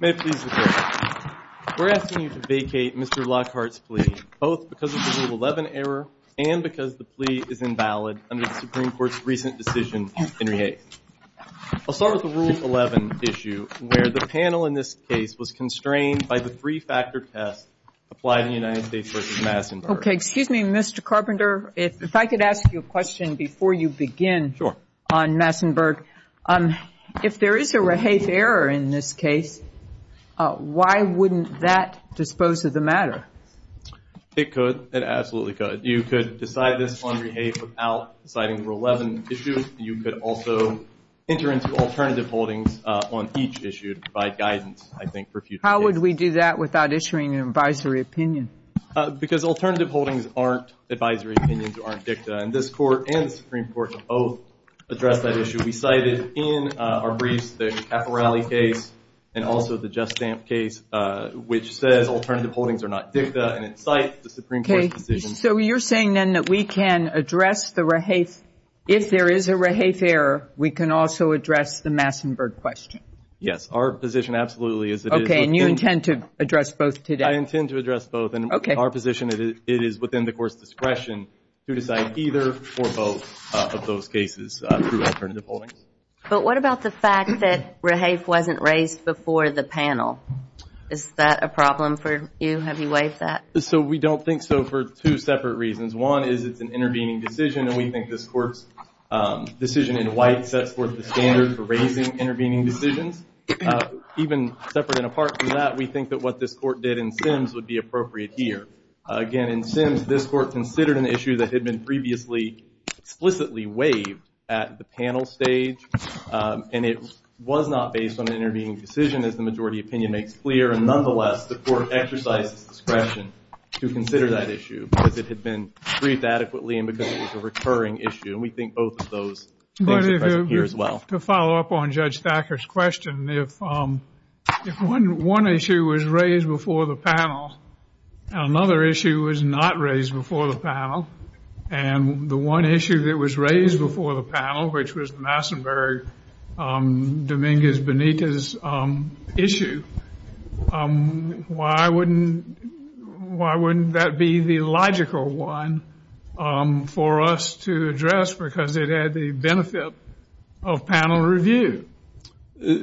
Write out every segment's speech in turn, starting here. We are asking you to vacate Mr. Lockhart's plea, both because of the Rule 11 error and because the plea is invalid under the Supreme Court's recent decision in Rehabe. I'll start with the Rule 11 issue, where the panel in this case was constrained by the three-factor test applied in the United States v. Massenburg. Okay, excuse me, Mr. Carpenter, if I could ask you a question before you begin on Massenburg. If there is a Rehabe error in this case, why wouldn't that dispose of the matter? It could, it absolutely could. You could decide this under Rehabe without citing Rule 11 issues. You could also enter into alternative holdings on each issue by guidance, I think, for future. How would we do that without issuing an advisory opinion? Because alternative holdings aren't advisory opinions, aren't dicta, and this Court and in our briefs, the Caporale case and also the Just Dance case, which said alternative holdings are not dicta, and it cites the Supreme Court's decision. So you're saying then that we can address the Rehabe, if there is a Rehabe error, we can also address the Massenburg question? Yes, our position absolutely is that it is. Okay, and you intend to address both today? I intend to address both. Okay. Our position is it is within the Court's discretion to decide either or both of those cases through alternative holdings. But what about the fact that Rehabe wasn't raised before the panel? Is that a problem for you? Have you raised that? So we don't think so for two separate reasons. One is it's an intervening decision, and we think this Court's decision in White set forth the standards for raising intervening decisions. Even separate and apart from that, we think that what this Court did in Sims would be appropriate here. Again, in Sims, this Court considered an issue that had been previously explicitly waived at the panel stage, and it was not based on an intervening decision, as the majority opinion makes clear. And nonetheless, the Court exercised discretion to consider that issue, but it had been briefed adequately and because it was a recurring issue. And we think both of those are here as well. To follow up on Judge Thacker's question, if one issue was raised before the panel and another issue was not raised before the panel, and the one issue that was raised before the panel, which was Massenburg-Dominguez-Bonita's issue, why wouldn't that be the logical one for us to address? Because it had the benefit of panel review.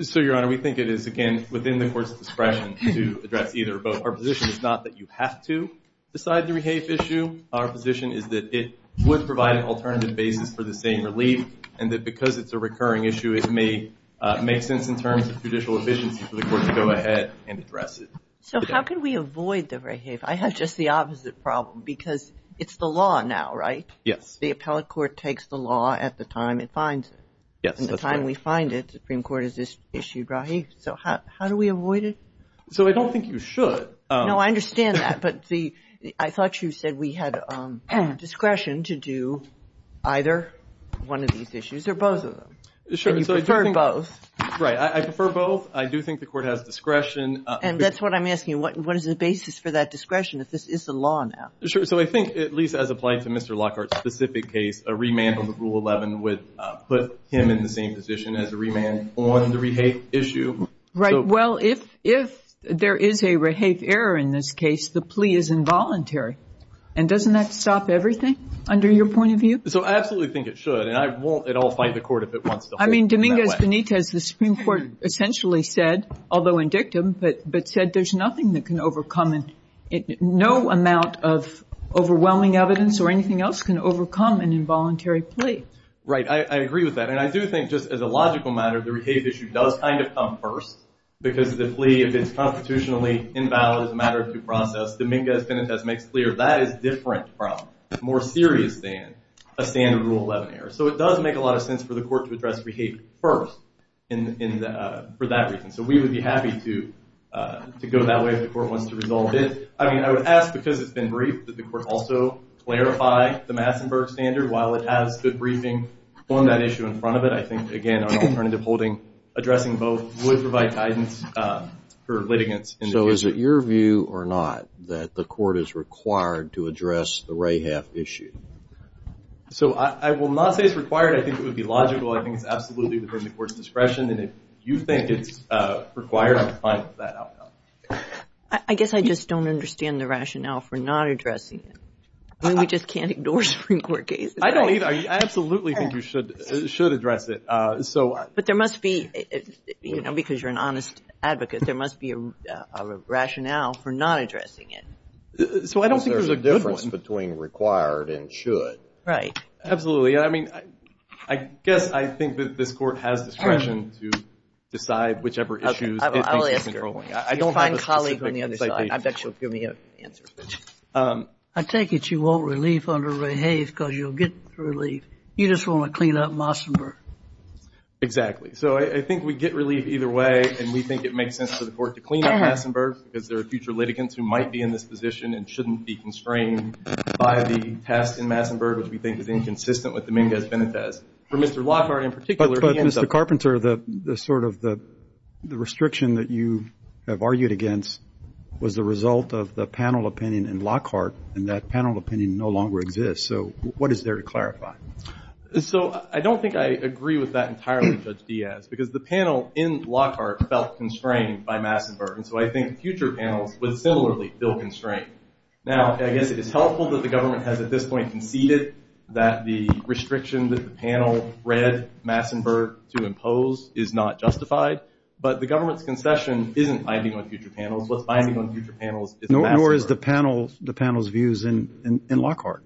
So, Your Honor, we think it is, again, within the Court's discretion to address either or both. Our position is not that you have to decide the rehafe issue. Our position is that it would provide an alternative basis for the same relief, and that because it's a recurring issue, it makes sense in terms of judicial efficiency for the Court to go ahead and address it. So, how can we avoid the rehafe? I have just the opposite problem, because it's the law now, right? Yes. The appellate court takes the law at the time it finds it. Yes, that's correct. And the time we find it, the Supreme Court has issued, right? So, how do we avoid it? So, I don't think you should. No, I understand that. But I thought you said we had discretion to do either one of these issues or both of them. Sure. You prefer both. Right. I prefer both. I do think the Court has discretion. And that's what I'm asking. What is the basis for that discretion? If this is the law now? Sure. So, I think, at least as applies to Mr. Lockhart's specific case, a remand over Rule 11 would put him in the same position as a remand on the rehafe issue. Right. If there is a rehafe error in this case, the plea is involuntary. And doesn't that stop everything, under your point of view? So, I absolutely think it should. And I won't at all fight the Court if it wants to hold it that way. I mean, Dominguez-Benitez, the Supreme Court essentially said, although in dictum, but said there's nothing that can overcome it. No amount of overwhelming evidence or anything else can overcome an involuntary plea. Right. I agree with that. I do think, just as a logical matter, the rehafe issue does kind of come first. Because the plea, if it's constitutionally invalid as a matter of due process, Dominguez-Benitez makes clear that is different from, more serious than, a standard Rule 11 error. So, it does make a lot of sense for the Court to address rehafe first for that reason. So, we would be happy to go that way if the Court wants to resolve it. I mean, I would ask, because it's been briefed, that the Court also clarify the Massenburg standard while it has good briefing on that issue in front of it. I think, again, on alternative holding, addressing both would provide guidance for litigants. So, is it your view or not that the Court is required to address the rehafe issue? So, I will not say it's required. I think it would be logical. I think it's absolutely within the Court's discretion. And if you think it's required, I'm fine with that outcome. I guess I just don't understand the rationale for not addressing it. I mean, we just can't ignore Supreme Court cases. I don't either. I absolutely think you should address it. But there must be, you know, because you're an honest advocate, there must be a rationale for not addressing it. So, I don't think there's a difference between required and should. Right. Absolutely. And I mean, I guess I think that this Court has discretion to decide whichever issues it thinks it's controlling. I'll answer. You'll find colleagues on the other side. I bet you'll give me answers. I take it you won't relief under rehafe because you'll get relief. You just want to clean up Mossenburg. Exactly. So, I think we get relief either way. And we think it makes sense for the Court to clean up Mossenburg because there are future litigants who might be in this position and shouldn't be constrained by the past in Mossenburg, which we think is inconsistent with the Mingus Benefes. For Mr. Lockhart in particular. But Mr. Carpenter, the sort of the restriction that you have argued against was the result of the panel opinion in Lockhart. And that panel opinion no longer exists. So, what is there to clarify? So, I don't think I agree with that entirely, Judge Diaz, because the panel in Lockhart felt constrained by Mossenburg. And so, I think future panels would similarly feel constrained. Now, I guess it is helpful that the government has at this point conceded that the restriction that the panel read Mossenburg to impose is not justified. But the government's concession isn't binding on future panels. It's binding on future panels. Nor is the panel's views in Lockhart.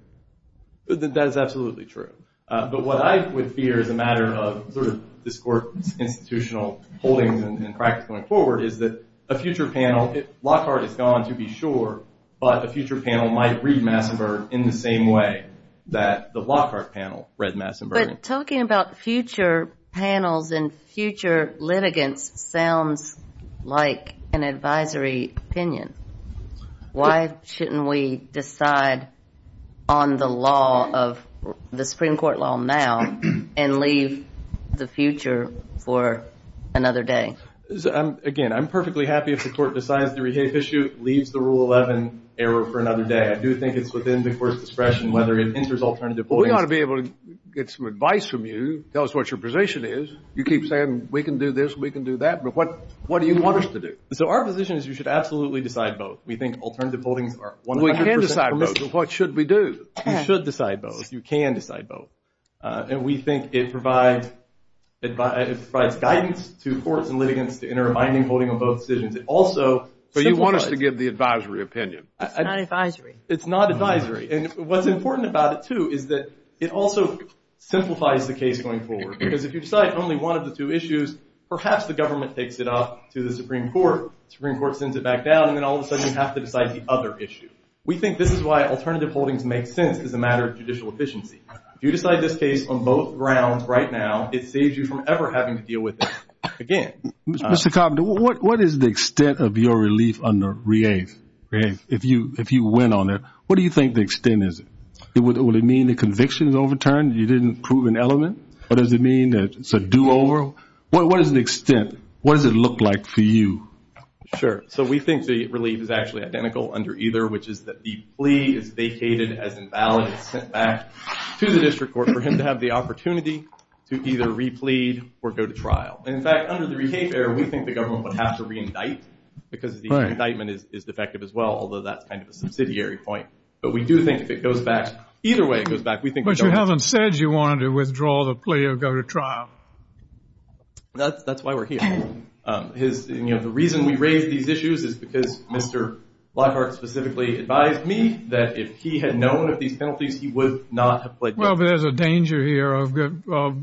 That is absolutely true. But what I would fear as a matter of sort of this Court institutional holdings and practice going forward is that a future panel, if Lockhart is gone to be sure, but a future panel might read Mossenburg in the same way that the Lockhart panel read Mossenburg. Talking about future panels and future litigants sounds like an advisory opinion. Why shouldn't we decide on the law of the Supreme Court law now and leave the future for another day? Again, I'm perfectly happy if the Court decides to rehave the issue, leaves the Rule 11 error for another day. I do think it's within the Court's discretion whether it enters alternative voting. We ought to be able to get some advice from you. Tell us what your position is. You keep saying we can do this, we can do that. But what do you want us to do? So our position is you should absolutely decide both. We think alternative voting are 100%— We can decide both. What should we do? You should decide both. You can decide both. And we think it provides guidance to courts and litigants to enter a binding holding on both decisions. Also— But you want us to give the advisory opinion. It's not advisory. It's not advisory. And what's important about it, too, is that it also simplifies the case going forward. Because if you decide only one of the two issues, perhaps the government takes it up to the Supreme Court. Supreme Court sends it back down, and then all of a sudden you have to decide the other issue. We think this is why alternative holdings make sense as a matter of judicial efficiency. If you decide this case on both grounds right now, it saves you from ever having to deal with it again. Mr. Cobb, what is the extent of your relief under rehave, if you win on it? What do you think the extent is? Would it mean the conviction is overturned? You didn't prove an element? Or does it mean that it's a do-over? What is the extent? What does it look like for you? Sure. So we think the relief is actually identical under either, which is that the plea is vacated as invalid and sent back to the district court for him to have the opportunity to either replead or go to trial. In fact, under the rehave error, we think the government will have to reindict because the indictment is effective as well, although that's kind of a subsidiary point. But we do think if it goes back, either way it goes back, we think that- But you haven't said you wanted to withdraw the plea or go to trial. That's why we're here. The reason we raise these issues is because Mr. Blackheart specifically advised me that if he had known of these penalties, he would not have played- Well, but there's a danger here of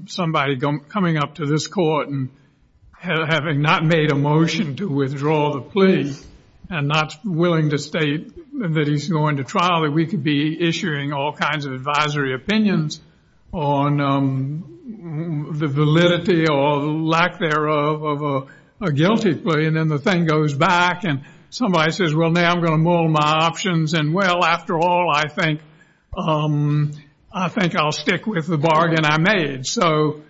somebody coming up to this court and having not made a motion to withdraw the plea and not willing to state that he's going to trial, that we could be issuing all kinds of advisory opinions on the validity or lack thereof of a guilty plea, and then the thing goes back and somebody says, well, now I'm going to mull my options and well, after all, I think I'll stick with the bargain I made. So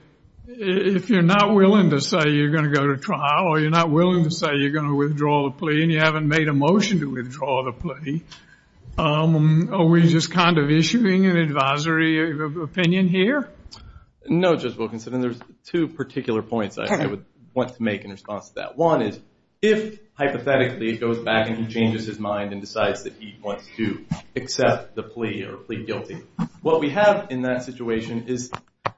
if you're not willing to say you're going to go to trial or you're not willing to say you're going to withdraw the plea and you haven't made a motion to withdraw the plea, are we just kind of issuing an advisory opinion here? No, Judge Wilkinson, and there's two particular points I would want to make in response to that. One is if hypothetically it goes back and he changes his mind and decides that he wants to the plea or plead guilty, what we have in that situation is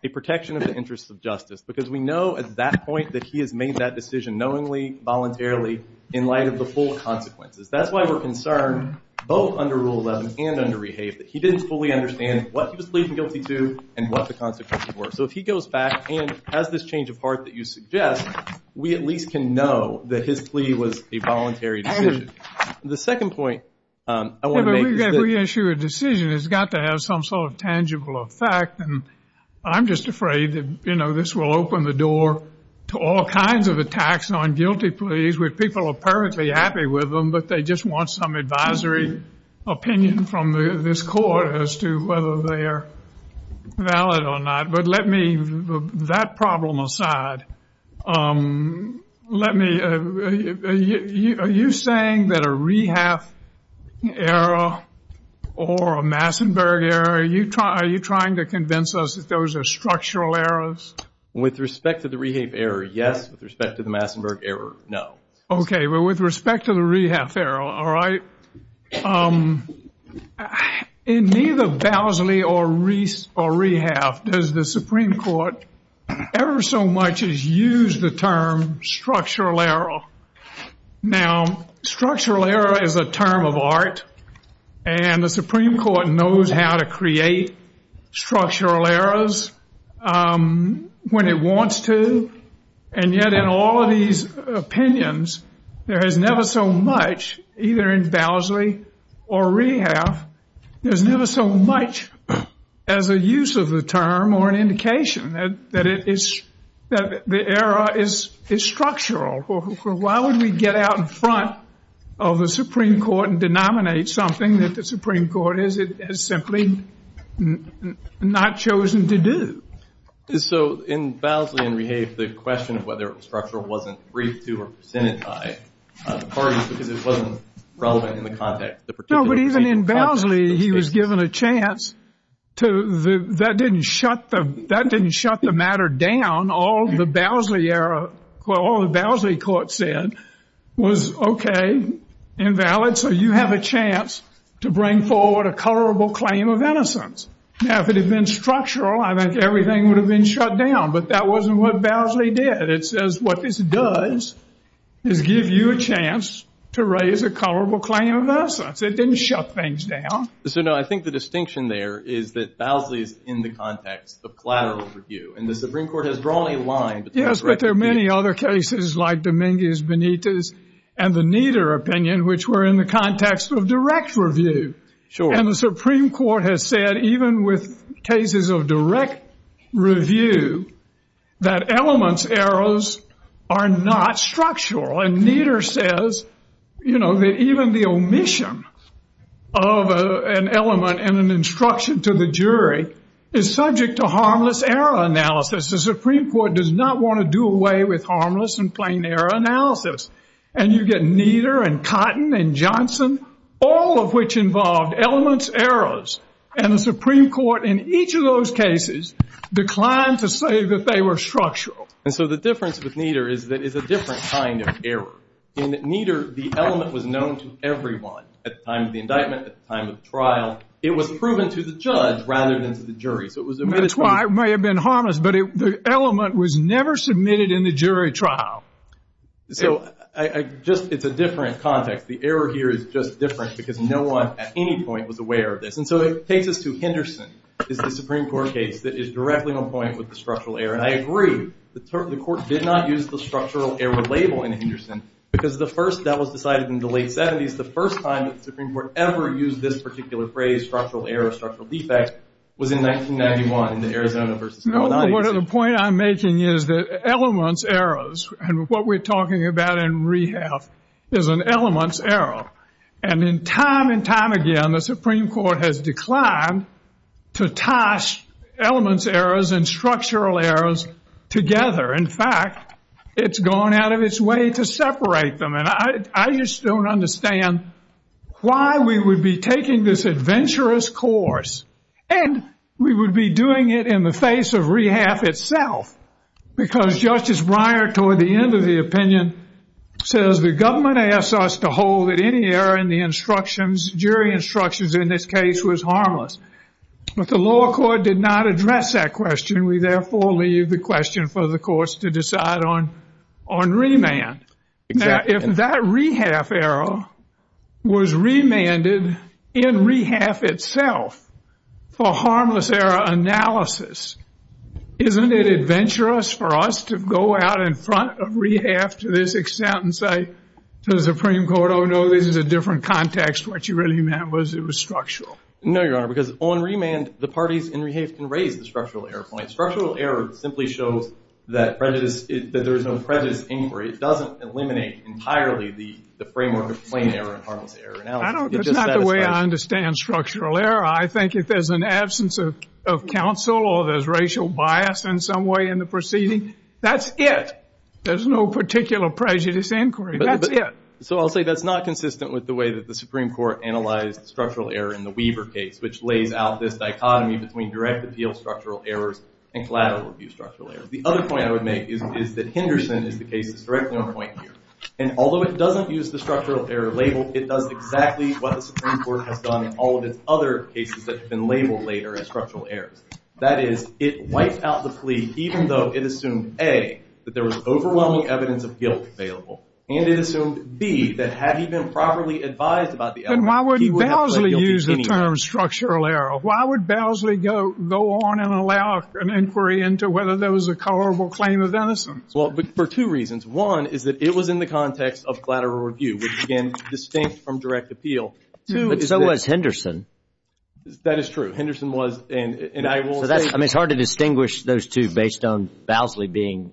a protection of the interest of justice because we know at that point that he has made that decision knowingly, voluntarily, in light of the full consequences. That's why we're concerned both under Rule 11 and under Rehabilitation. He didn't fully understand what he was pleading guilty to and what the consequences were. So if he goes back and has this change of heart that you suggest, we at least can know that his plea was a voluntary decision. The second point I want to make- Reissue a decision has got to have some sort of tangible effect and I'm just afraid that, you know, this will open the door to all kinds of attacks on guilty pleas where people are apparently happy with them but they just want some advisory opinion from this court as to whether they are valid or not. But let me, that problem aside, let me, are you saying that a rehab error or a Massenburg error, are you trying to convince us that those are structural errors? With respect to the rehab error, yes. With respect to the Massenburg error, no. Okay. Well, with respect to the rehab error, all right, in either Bowsley or Reiss or Rehab, does the Supreme Court ever so much as use the term structural error? Now, structural error is a term of art and the Supreme Court knows how to create structural errors when it wants to, and yet in all of these opinions, there is never so much, either in Bowsley or Rehab, there's never so much as a use of the term or an indication that it is, that the error is structural. Why would we get out in front of the Supreme Court and denominate something that the Supreme Court has simply not chosen to do? So in Bowsley and Rehab, the question of whether it was structural wasn't briefed to or presented by the parties because it wasn't relevant in the context of the particular case. No, but even in Bowsley, he was given a chance to, that didn't shut the matter down, all of the Bowsley era, what all the Bowsley court said was okay, invalid, so you have a chance to bring forward a colorable claim of innocence. Now, if it had been structural, I think everything would have been shut down, but that wasn't what Bowsley did. It says what this does is give you a chance to raise a colorable claim of innocence. It didn't shut things down. So no, I think the distinction there is that Bowsley is in the context of collateral review, and the Supreme Court has drawn a line. Yes, but there are many other cases like Dominguez Benitez and the Nieder opinion, which were in the context of direct review, and the Supreme Court has said even with cases of direct review, that elements errors are not structural, and Nieder says, you know, that even the omission of an element and an instruction to the jury is subject to harmless error analysis. The Supreme Court does not want to do away with harmless and plain error analysis, and you get Nieder and Cotton and Johnson, all of which involved elements errors, and the Supreme Court in each of those cases declined to say that they were structural. And so the difference with Nieder is that it's a different kind of error. In Nieder, the element was known to everyone at the time of the indictment, at the time of the trial. It was proven to the judge rather than to the jury. That's why it may have been harmless, but the element was never submitted in the jury trial. So I just, it's a different context. The error here is just different because no one at any point was aware of this, and so in cases to Henderson, it's a Supreme Court case that is directly on point with the structural error, and I agree. The court did not use the structural error label in Henderson, because the first that was decided in the late 70s, the first time that the Supreme Court ever used this particular phrase, structural error, structural defect, was in 1991 in the Arizona versus Rhode Island case. No, but the point I'm making is that elements errors, and what we're talking about in rehab is an elements error, and in time and time again, the Supreme Court has declined to toss elements errors and structural errors together. In fact, it's gone out of its way to separate them, and I just don't understand why we would be taking this adventurous course, and we would be doing it in the face of rehab itself, because Justice Breyer, toward the end of the opinion, says the government asked us to hold that any error in the instructions, jury instructions in this case, was harmless, but the law court did not address that question. We therefore leave the question for the courts to decide on on remand. Now, if that rehab error was remanded in rehab itself for harmless error analysis, isn't it adventurous for us to go out in front of rehab to this extent and say to the Supreme Court, oh no, this is a different context what you really meant was it was structural? No, you are, because on remand, the parties in rehab can raise the structural error point. Structural errors simply show that prejudice, that there is no prejudice inquiry. It doesn't eliminate entirely the framework of plain error and harmless error analysis. That's not the way I understand structural error. I think if there's an absence of counsel or there's racial bias in some way in the proceeding, that's it. There's no particular prejudice inquiry. That's it. So I'll say that's not consistent with the way that the Supreme Court analyzed structural error in the Weaver case, which lays out this dichotomy between direct appeal structural errors and collateral abuse structural errors. The other point I would make is that Henderson indicates a direct point here. And although it doesn't use the structural error label, it does exactly what the Supreme Court has done in all of its other cases that have been labeled later as structural errors. That is, it wipes out the plea, even though it assumed A, that there was overwhelming evidence of guilt available, and it assumed B, that had he been properly advised about the error, he would have pleaded guilty. Then why would Bousley use the term structural error? Why would Bousley go on and allow an inquiry into whether there was a colorable claim of innocence? Well, for two reasons. One is that it was in the context of collateral abuse, which, again, distinct from direct appeal. Two is that... But so was Henderson. That is true. Henderson was, and I will say... I mean, it's hard to distinguish those two based on Bousley being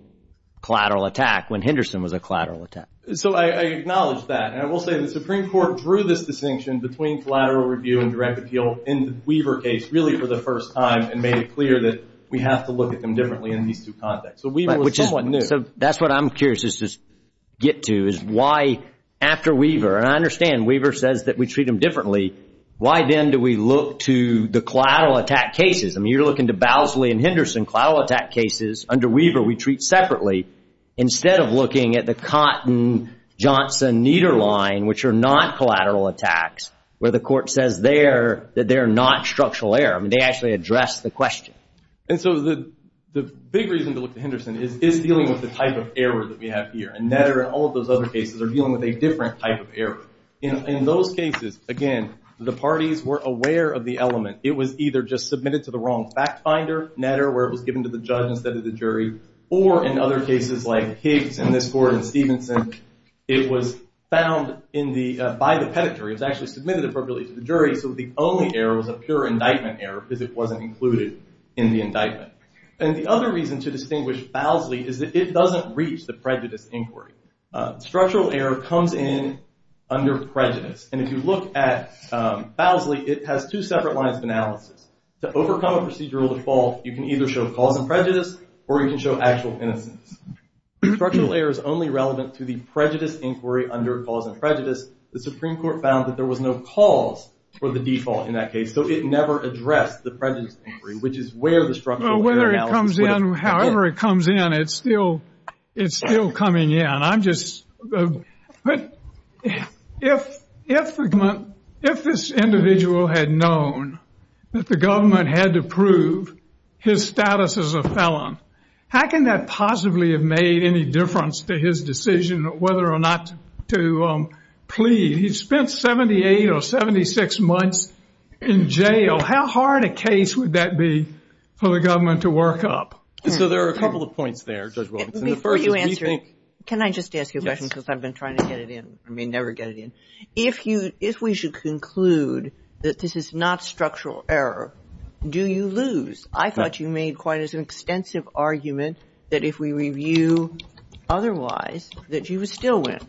collateral attack, when Henderson was a collateral attack. So I acknowledge that. And I will say that the Supreme Court drew this distinction between collateral review and direct appeal in the Weaver case, really for the first time, and made it clear that we have to look at them differently in these two contexts. Right, which is what I'm curious to get to, is why after Weaver, and I understand Weaver says that we treat them differently, why then do we look to the collateral attack cases? I mean, you're looking to Bousley and Henderson collateral attack cases. Under Weaver, we treat separately, instead of looking at the Cotton-Johnson-Neder line, which are not collateral attacks, where the court says there that they're not structural error. I mean, they actually address the question. And so the big reason to look at Henderson is dealing with the type of errors that we have here. And Netter and all of those other cases are dealing with a different type of error. In those cases, again, the parties were aware of the element. It was either just submitted to the wrong fact finder, Netter, where it was given to the judge instead of the jury, or in other cases like Higgs and this court in Stevenson, it was found by the pedigree, it was actually submitted appropriately to the jury, so the only error was a pure indictment error because it wasn't included in the indictment. And the other reason to distinguish Bousley is that it doesn't reach the prejudice inquiry. Structural error comes in under prejudice. And if you look at Bousley, it has two separate lines of analysis. To overcome a procedural default, you can either show cause and prejudice, or you can show actual innocence. Structural error is only relevant to the prejudice inquiry under cause and prejudice. The Supreme Court found that there was no cause for the default in that case, so it never addressed the prejudice inquiry, which is where the structural error analysis was. Whether it comes in, however it comes in, it's still coming in. If this individual had known that the government had to prove his status as a felon, how can that possibly have made any difference to his decision whether or not to plead? He spent 78 or 76 months in jail. How hard a case would that be for the government to work up? So there are a couple of points there, Judge Wilkinson. Before you answer it, can I just ask you a question because I've been trying to get it in? I may never get it in. If we should conclude that this is not structural error, do you lose? I thought you made quite an extensive argument that if we review otherwise, that you would still win.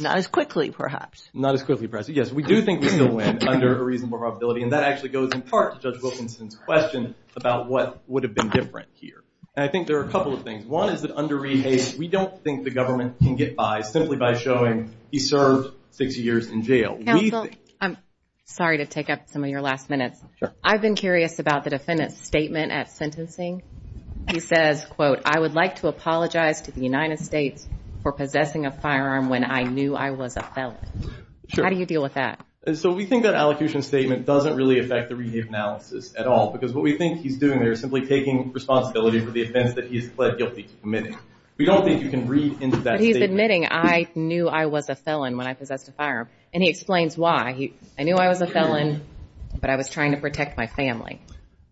Not as quickly, perhaps. Not as quickly, perhaps. Yes, we do think we're going to win under a reasonable probability, and that actually goes in part to Judge Wilkinson's question about what would have been different here. I think there are a couple of things. One is that under rehabilitation, we don't think the government can get by simply by showing he served 60 years in jail. I'm sorry to take up some of your last minutes. I've been curious about the defendant's statement at sentencing. He says, quote, I would like to apologize to the United States for possessing a firearm when I knew I was a felon. How do you deal with that? So we think that allocution statement doesn't really affect the rehab analysis at all, because what we think he's doing there is simply taking responsibility for the events that he has pled guilty to committing. We don't think you can read into that statement. But he's admitting, I knew I was a felon when I possessed a firearm, and he explains why. I knew I was a felon, but I was trying to protect my family.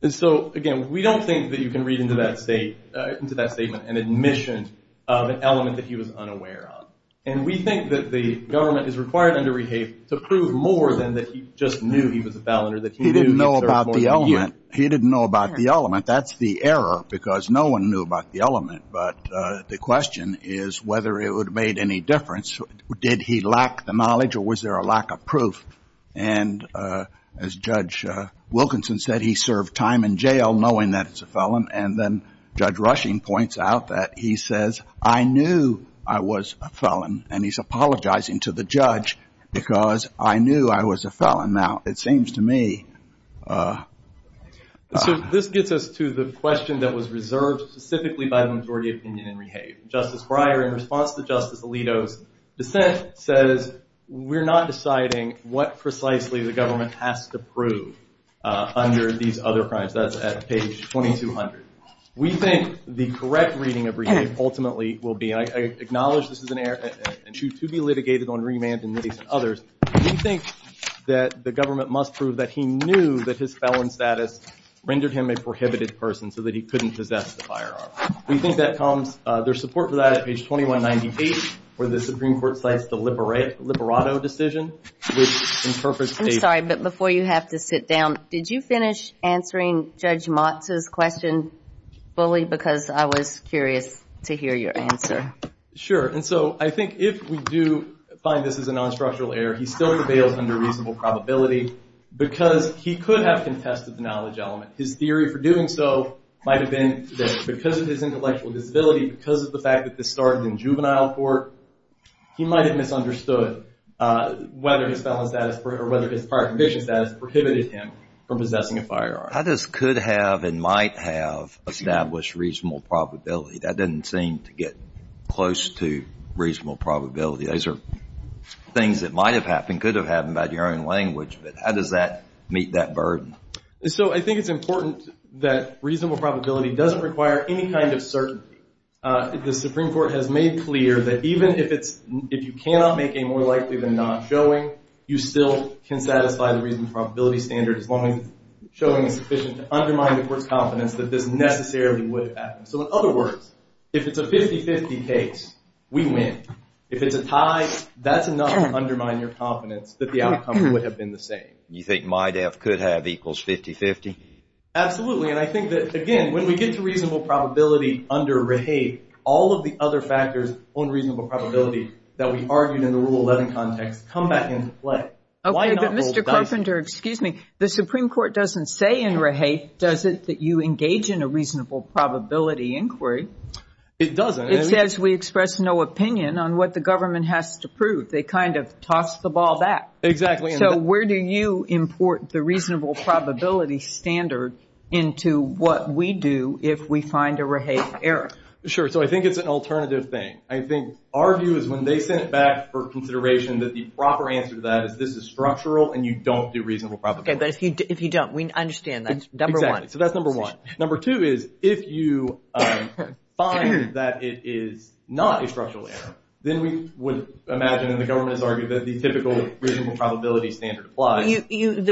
So again, we don't think that you can read into that statement an admission of an element that he was unaware of. And we think that the government is required under rehabilitation to prove more than that he just knew he was a felon or that he didn't know about the element. He didn't know about the element. That's the error, because no one knew about the element. But the question is whether it would have made any difference. Did he lack the knowledge, or was there a lack of proof? And as Judge Wilkinson said, he served time in jail knowing that he was a felon. And then Judge Rushing points out that he says, I knew I was a felon, and he's apologizing to the judge because I knew I was a felon. Now, it seems to me... This gets us to the question that was reserved specifically by the majority opinion in rehab. Justice Breyer, in response to Justice Alito's dissent, says we're not deciding what precisely the government has to prove under these other crimes. That's at page 2200. We think the correct reading of rehabilitation ultimately will be, and I acknowledge this is an error and should to be litigated on remand and many others, we think that the government must prove that he knew that his felon status rendered him a prohibited person so that he couldn't possess the firearm. We think that there's support for that at page 2198 where the Supreme Court cites the But before you have to sit down, did you finish answering Judge Motz's question fully? Because I was curious to hear your answer. Sure. And so I think if we do find this is a non-structural error, he still prevails under reasonable probability because he could have contested the knowledge element. His theory for doing so might have been that because of his intellectual disability, because of the fact that this started in juvenile court, he might have understood whether his felon status or whether his prior conviction status prohibited him from possessing a firearm. How does could have and might have established reasonable probability? That didn't seem to get close to reasonable probability. Those are things that might have happened, could have happened by your own language, but how does that meet that burden? So I think it's important that reasonable probability doesn't require any kind of clear that even if you cannot make a more likely than not showing, you still can satisfy the reasonable probability standard as long as showing is sufficient to undermine the court's confidence that this necessarily would have happened. So in other words, if it's a 50-50 case, we win. If it's a tie, that's enough to undermine your confidence that the outcome would have been the same. You think might have could have equals 50-50? Absolutely. And I think that, again, when we get to reasonable probability under Rahae, all of the other factors on reasonable probability that we argued in the Rule 11 context come back into play. Okay, but Mr. Carpenter, excuse me, the Supreme Court doesn't say in Rahae does it that you engage in a reasonable probability inquiry. It doesn't. It says we express no opinion on what the government has to prove. They kind of toss the ball back. Exactly. So where do you import the reasonable probability standard into what we do if we find a Rahae error? Sure. So I think it's an alternative thing. I think our view is when they sent back for consideration that the proper answer to that is this is structural and you don't do reasonable probability. Okay, but if you don't, we understand that's number one. Exactly. So that's number one. Number two is if you find that it is not a structural error, then we would imagine and the government has argued that the probability standard applies. But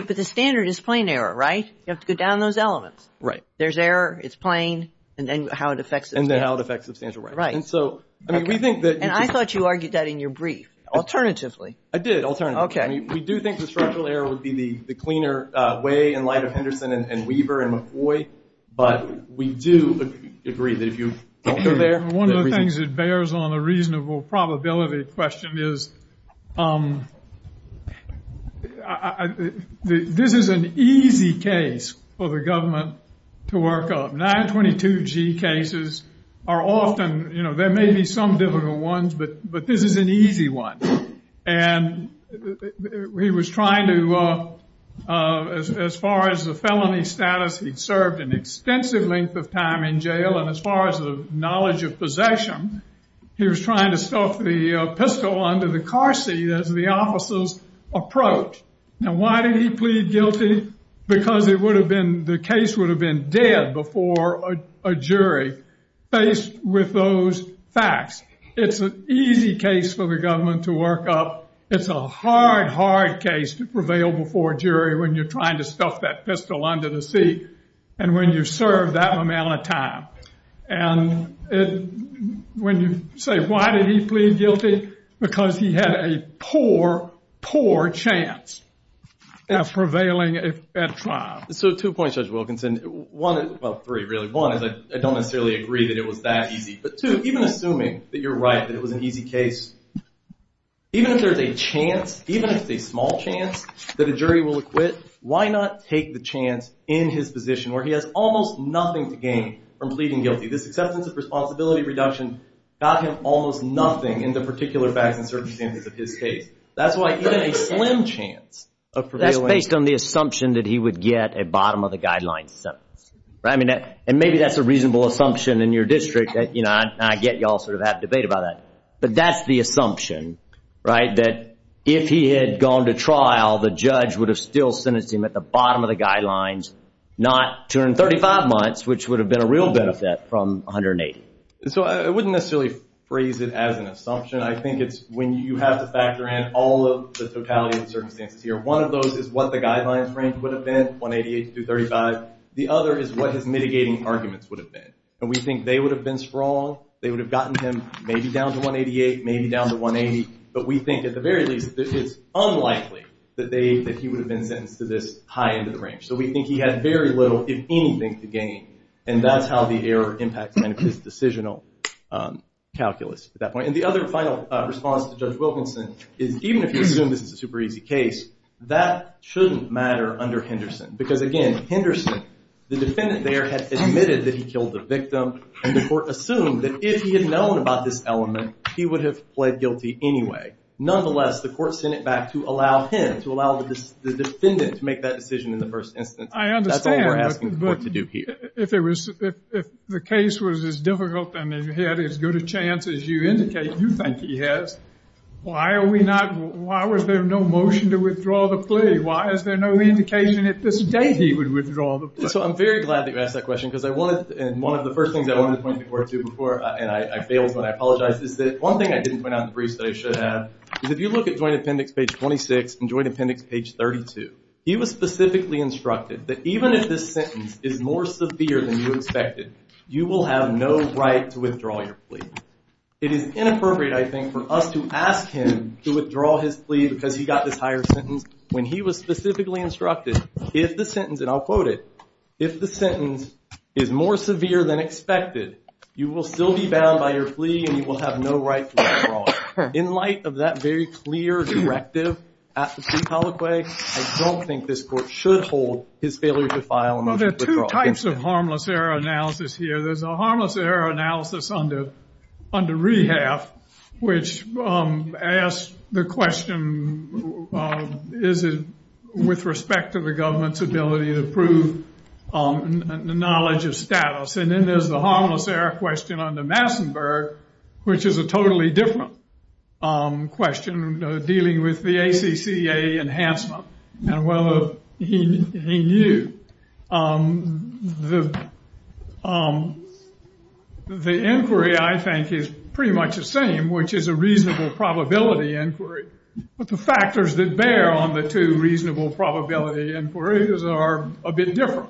the standard is plain error, right? You have to go down those elements. Right. There's error, it's plain, and then how it affects it. And then how it affects the standard. Right. And so, I mean, we think that... And I thought you argued that in your brief, alternatively. I did, alternatively. Okay. I mean, we do think the structural error would be the cleaner way in light of Henderson and Weaver and McCoy, but we do agree that if you... One of the things that bears on the reasonable probability question is this is an easy case for the government to work out. 922G cases are often, you know, there may be some difficult ones, but this is an easy one. And he was trying to, as far as the felony status, he'd served an extensive length of time in jail. And as far as the knowledge of possession, he was trying to stuff the pistol under the car seat as the officers approached. Now, why did he plead guilty? Because the case would have been dead before a jury faced with those facts. It's an easy case for the government to work up. It's a hard, hard case to prevail before a jury when you're trying to stuff that pistol under the seat and when you've served that amount of time. And when you say, why did he plead guilty? Because he had a poor, poor chance of prevailing at trial. So two points, Judge Wilkinson. Well, three, really. One is I don't necessarily agree that it was that easy. But two, even assuming that you're right, that it was an easy case, even if there's a chance, even if it's a small chance that a jury will acquit, why not take the chance in his position where he has almost nothing to gain from pleading guilty? This excessive responsibility reduction got him almost nothing in the particular facts and circumstances of his case. That's why he had a slim chance of prevailing. That's based on the assumption that he would get a bottom of the guideline sentence. And maybe that's a reasonable assumption in your district. I get you all sort of have debate about that. But that's the assumption, right? That if he had gone to trial, the judge would have still sentenced him at the bottom of the guidelines, not 235 months, which would have been a real benefit from 180. So I wouldn't necessarily phrase it as an assumption. I think it's when you have to factor in all of the totality of the circumstances here. One of those is what the guidelines would have been, 188 through 35. The other is what his mitigating arguments would have been. And we think they would have been down to 188, maybe down to 180. But we think at the very least, it is unlikely that he would have been sentenced to this high end of the range. So we think he had very little, if anything, to gain. And that's how the error impact on his decisional calculus at that point. And the other final response to Judge Wilkinson is even if you assume this is a super easy case, that shouldn't matter under Henderson. Because again, Henderson, the defendant there had admitted that he killed the victim. And the court assumed that if he had known about this element, he would have pled guilty anyway. Nonetheless, the court sent it back to allow him, to allow the defendant to make that decision in the first instance. I understand, but if the case was as difficult and he had as good a chance as you indicate, you think he has, why are we not, why was there no motion to withdraw the plea? Why is there no indication that he would withdraw the plea? So I'm very glad that you asked that question, because I wanted, and one of the first things I wanted to point the court to before, and I failed when I apologized, is that one thing I didn't point out in the brief that I should have, is if you look at Joint Appendix page 26 and Joint Appendix page 32, he was specifically instructed that even if this sentence is more severe than you expected, you will have no right to withdraw your plea. It is inappropriate, I think, for us to ask him to withdraw his plea because he got this higher sentence when he was specifically instructed, if the sentence, and I'll quote it, if the sentence is more severe than expected, you will still be bound by your plea and you will have no right to withdraw it. In light of that very clear directive at the plea colloquy, I don't think this court should hold his failure to file a motion to withdraw. Well, there are two types of harmless error analysis here. There's a government's ability to prove the knowledge of status, and then there's the harmless error question under Massenburg, which is a totally different question dealing with the ACCA enhancement, and whether he knew. The inquiry, I think, is pretty much the same, which is a probability inquiry, but the factors that bear on the two reasonable probability inquiries are a bit different.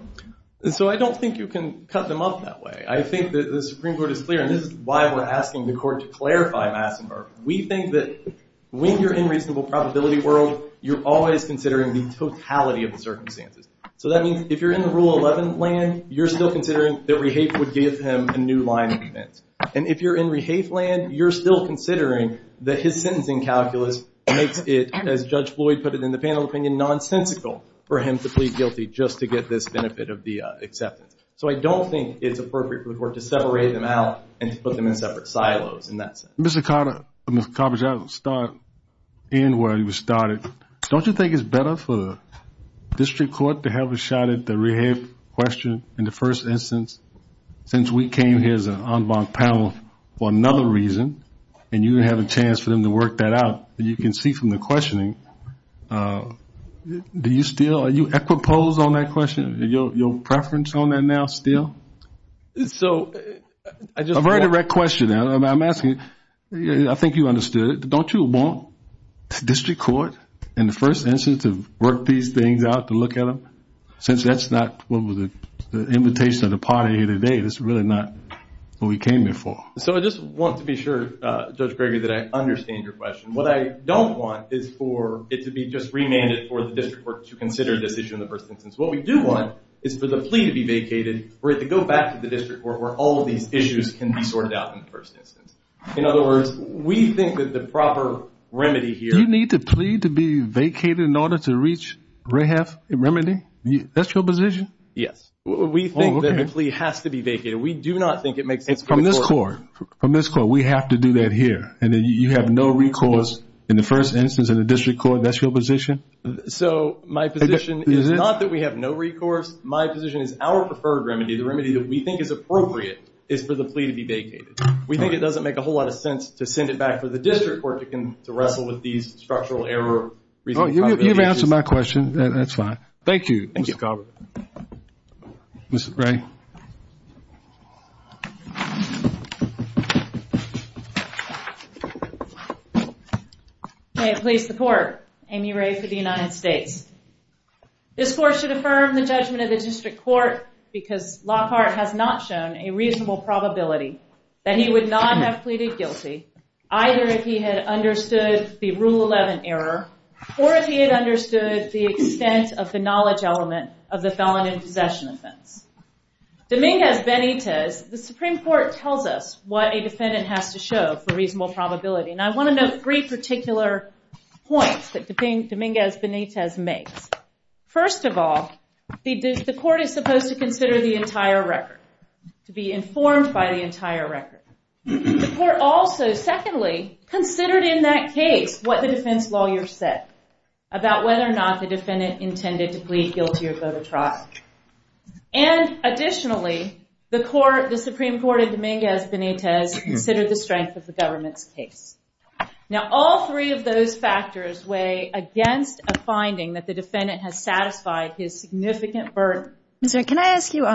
And so I don't think you can cut them up that way. I think that the Supreme Court is clear, and this is why we're asking the court to clarify Massenburg. We think that when you're in a reasonable probability world, you're always considering the totality of the circumstances. So that means if you're in the Rule 11 land, you're still considering that land, you're still considering that his sentencing calculus makes it, as Judge Floyd put it in the panel opinion, nonsensical for him to plead guilty just to get this benefit of the acceptance. So I don't think it's appropriate for the court to separate them out and put them in separate silos in that sense. Mr. Carter, let me start where you started. Don't you think it's better for district court to have a shot at the rehab question in the first instance since we came here on the panel for another reason, and you have a chance for them to work that out. You can see from the questioning, do you still, are you equi-posed on that question? Your preference on that now still? So I just... A very direct question, and I'm asking, I think you understood, don't you want district court in the first instance to work these things out, to look at them, since that's not what was the invitation of the party here today. This is really not what we came here for. So I just want to be sure, Judge Gregory, that I understand your question. What I don't want is for it to be just renamed for the district court to consider the issue in the first instance. What we do want is for the plea to be vacated for it to go back to the district court where all of these issues can be sorted out in the first instance. In other words, we think that the proper remedy here... You need the plea to be vacated in order to reach a remedy? That's your position? Yes. We think that the plea has to be vacated. We do not think it makes... From this court, from this court, we have to do that here, and then you have no recourse in the first instance in the district court. That's your position? So my position is not that we have no recourse. My position is our preferred remedy, the remedy that we think is appropriate, is for the plea to be vacated. We think it doesn't make a whole lot of sense to send it back to the district court to wrestle with these structural error... Oh, you've answered my question. That's fine. Thank you, Mr. Coburn. Ms. Gray. May it please the court, Amy Ray for the United States. This court should affirm the judgment of the district court because Lockhart has not shown a reasonable probability that he would not actually be guilty, either if he had understood the Rule 11 error, or if he had understood the extent of the knowledge element of the felon and possession offense. Dominguez-Benitez, the Supreme Court tells us what a defendant has to show for reasonable probability, and I want to note three particular points that Dominguez-Benitez makes. First of all, the court is supposed to consider the entire record, to be informed by the entire record. The court also, secondly, considered in that case what the defense lawyer said about whether or not the defendant intended to plead guilty or go to trial. And additionally, the Supreme Court of Dominguez-Benitez considers the strength of the government's case. Now, all three of those factors weigh against a finding that the defendant has satisfied his significant burden. Ms. Ray, can I ask you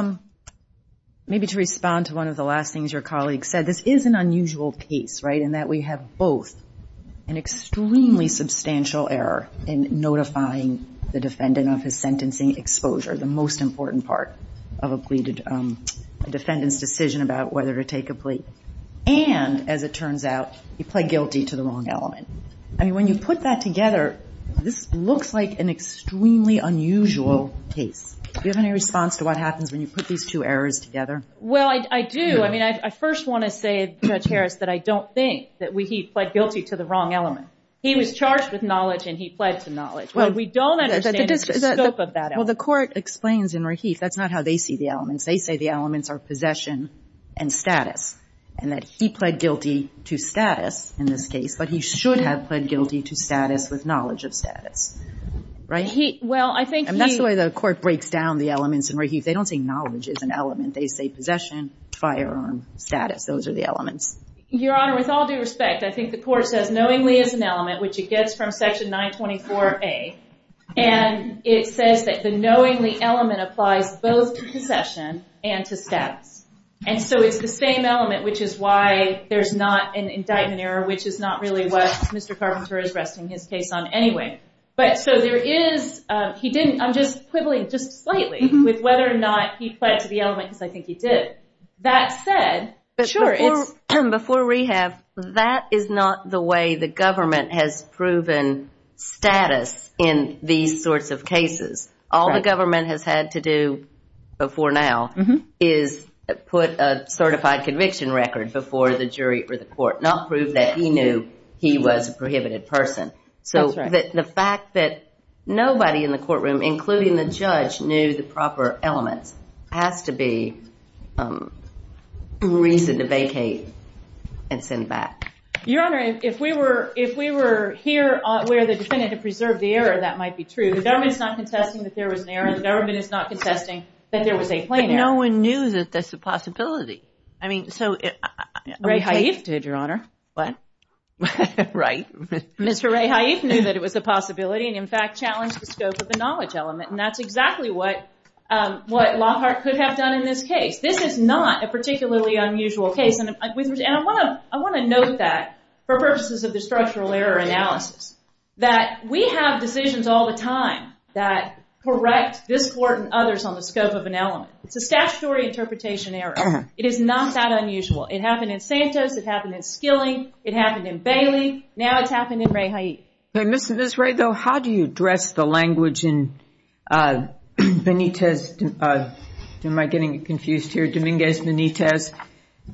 maybe to respond to one of the last things your colleague said? This is an unusual case, right, in that we have both an extremely substantial error in notifying the defendant of his sentencing exposure, the most important part of a defendant's decision about whether to take a plea, and as it turns out, he pled guilty to the wrong element. I mean, when you put that together, this looks like an extremely unusual case. Do you have any response to what happens when you put these two errors together? Well, I do. I mean, I first want to say, Judge Harris, that I don't think that he pled guilty to the wrong element. He was charged with knowledge, and he pled to knowledge. Well, we don't understand the scope of that element. Well, the court explains in Raheith, that's not how they see the elements. They say the elements are possession and status, and that he pled guilty to status in this case, but he should have pled guilty to status with knowledge of status, right? Well, I think... And that's the way the court breaks down the elements in Raheith. They don't think knowledge is an element. They say possession, firearm, status. Those are the elements. Your Honor, with all due respect, I think the court says knowingly is an element, which it gets from Section 924A, and it says that the knowingly element applies both to possession and to status, and so it's the same element, which is why there's not an indictment error, which is not really what Mr. Carpenter is resting his case on anyway, but so there is... He didn't... ...with whether or not he pled to the element, because I think he did. That said... But before rehab, that is not the way the government has proven status in these sorts of cases. All the government has had to do before now is put a certified conviction record before the jury or the court, not prove that he knew he was a prohibited person. So the fact that nobody in the courtroom, including the judge, knew the proper element has to be reason to vacate and send back. Your Honor, if we were here where the defendant had preserved the error, that might be true. The government is not contesting that there was an error. The government is not contesting that there was a claim error. No one knew that that's a possibility. I mean, so... Raheith? ...did, Your Honor. What? Right. Mr. Raheith knew that it was a possibility, and in fact, challenged the scope of the knowledge element. And that's exactly what Lockhart could have done in this case. This is not a particularly unusual case. And I want to note that, for purposes of the structural error analysis, that we have decisions all the time that correct this court and others on the scope of an element. It's a statutory interpretation error. It is not that unusual. It happened in Santos. It happened in Skilling. It happened in Skilling. Mr. Raheith, how do you address the language in Benitez's, am I getting it confused here, Dominguez Benitez,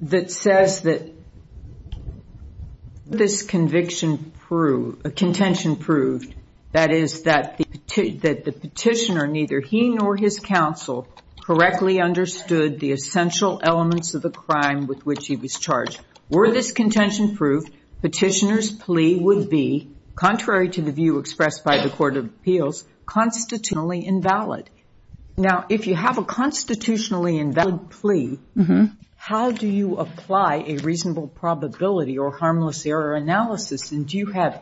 that says that this conviction proved, contention proved, that is, that the petitioner, neither he nor his counsel, correctly understood the essential elements of the crime with which he was charged. Were this contention proved, petitioner's plea would be, contrary to the view expressed by the Court of Appeals, constitutionally invalid. Now, if you have a constitutionally invalid plea, how do you apply a reasonable probability or harmless error analysis? And do you have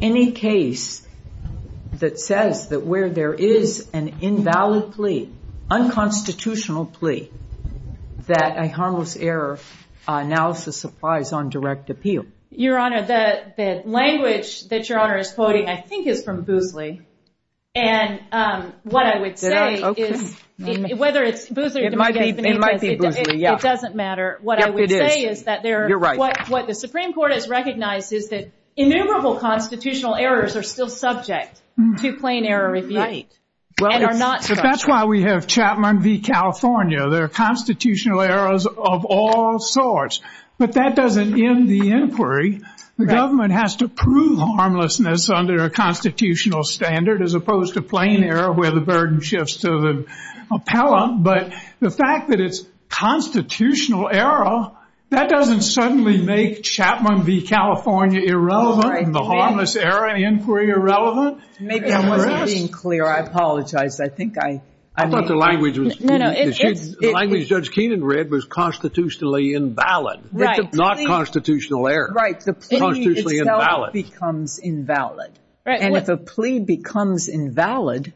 any case that says that where there is an invalid plea, unconstitutional plea, that a harmless error analysis applies on direct appeal? Your Honor, the language that Your Honor is quoting, I think, is from Boothley. And what I would say is, whether it's Boothley, it doesn't matter. What I would say is that what the Supreme Court has recognized is that innumerable constitutional errors are still subject to plain error. Well, but that's why we have Chapman v. California. There are constitutional errors of all sorts. But that doesn't end the inquiry. The government has to prove harmlessness under a constitutional standard, as opposed to plain error, where the burden shifts to the appellant. But the fact that it's constitutional error, that doesn't suddenly make Chapman v. California. I apologize. I think I— I thought the language was— The language Judge Keenan read was constitutionally invalid, not constitutional error. Right. The plea itself becomes invalid. And if a plea becomes invalid,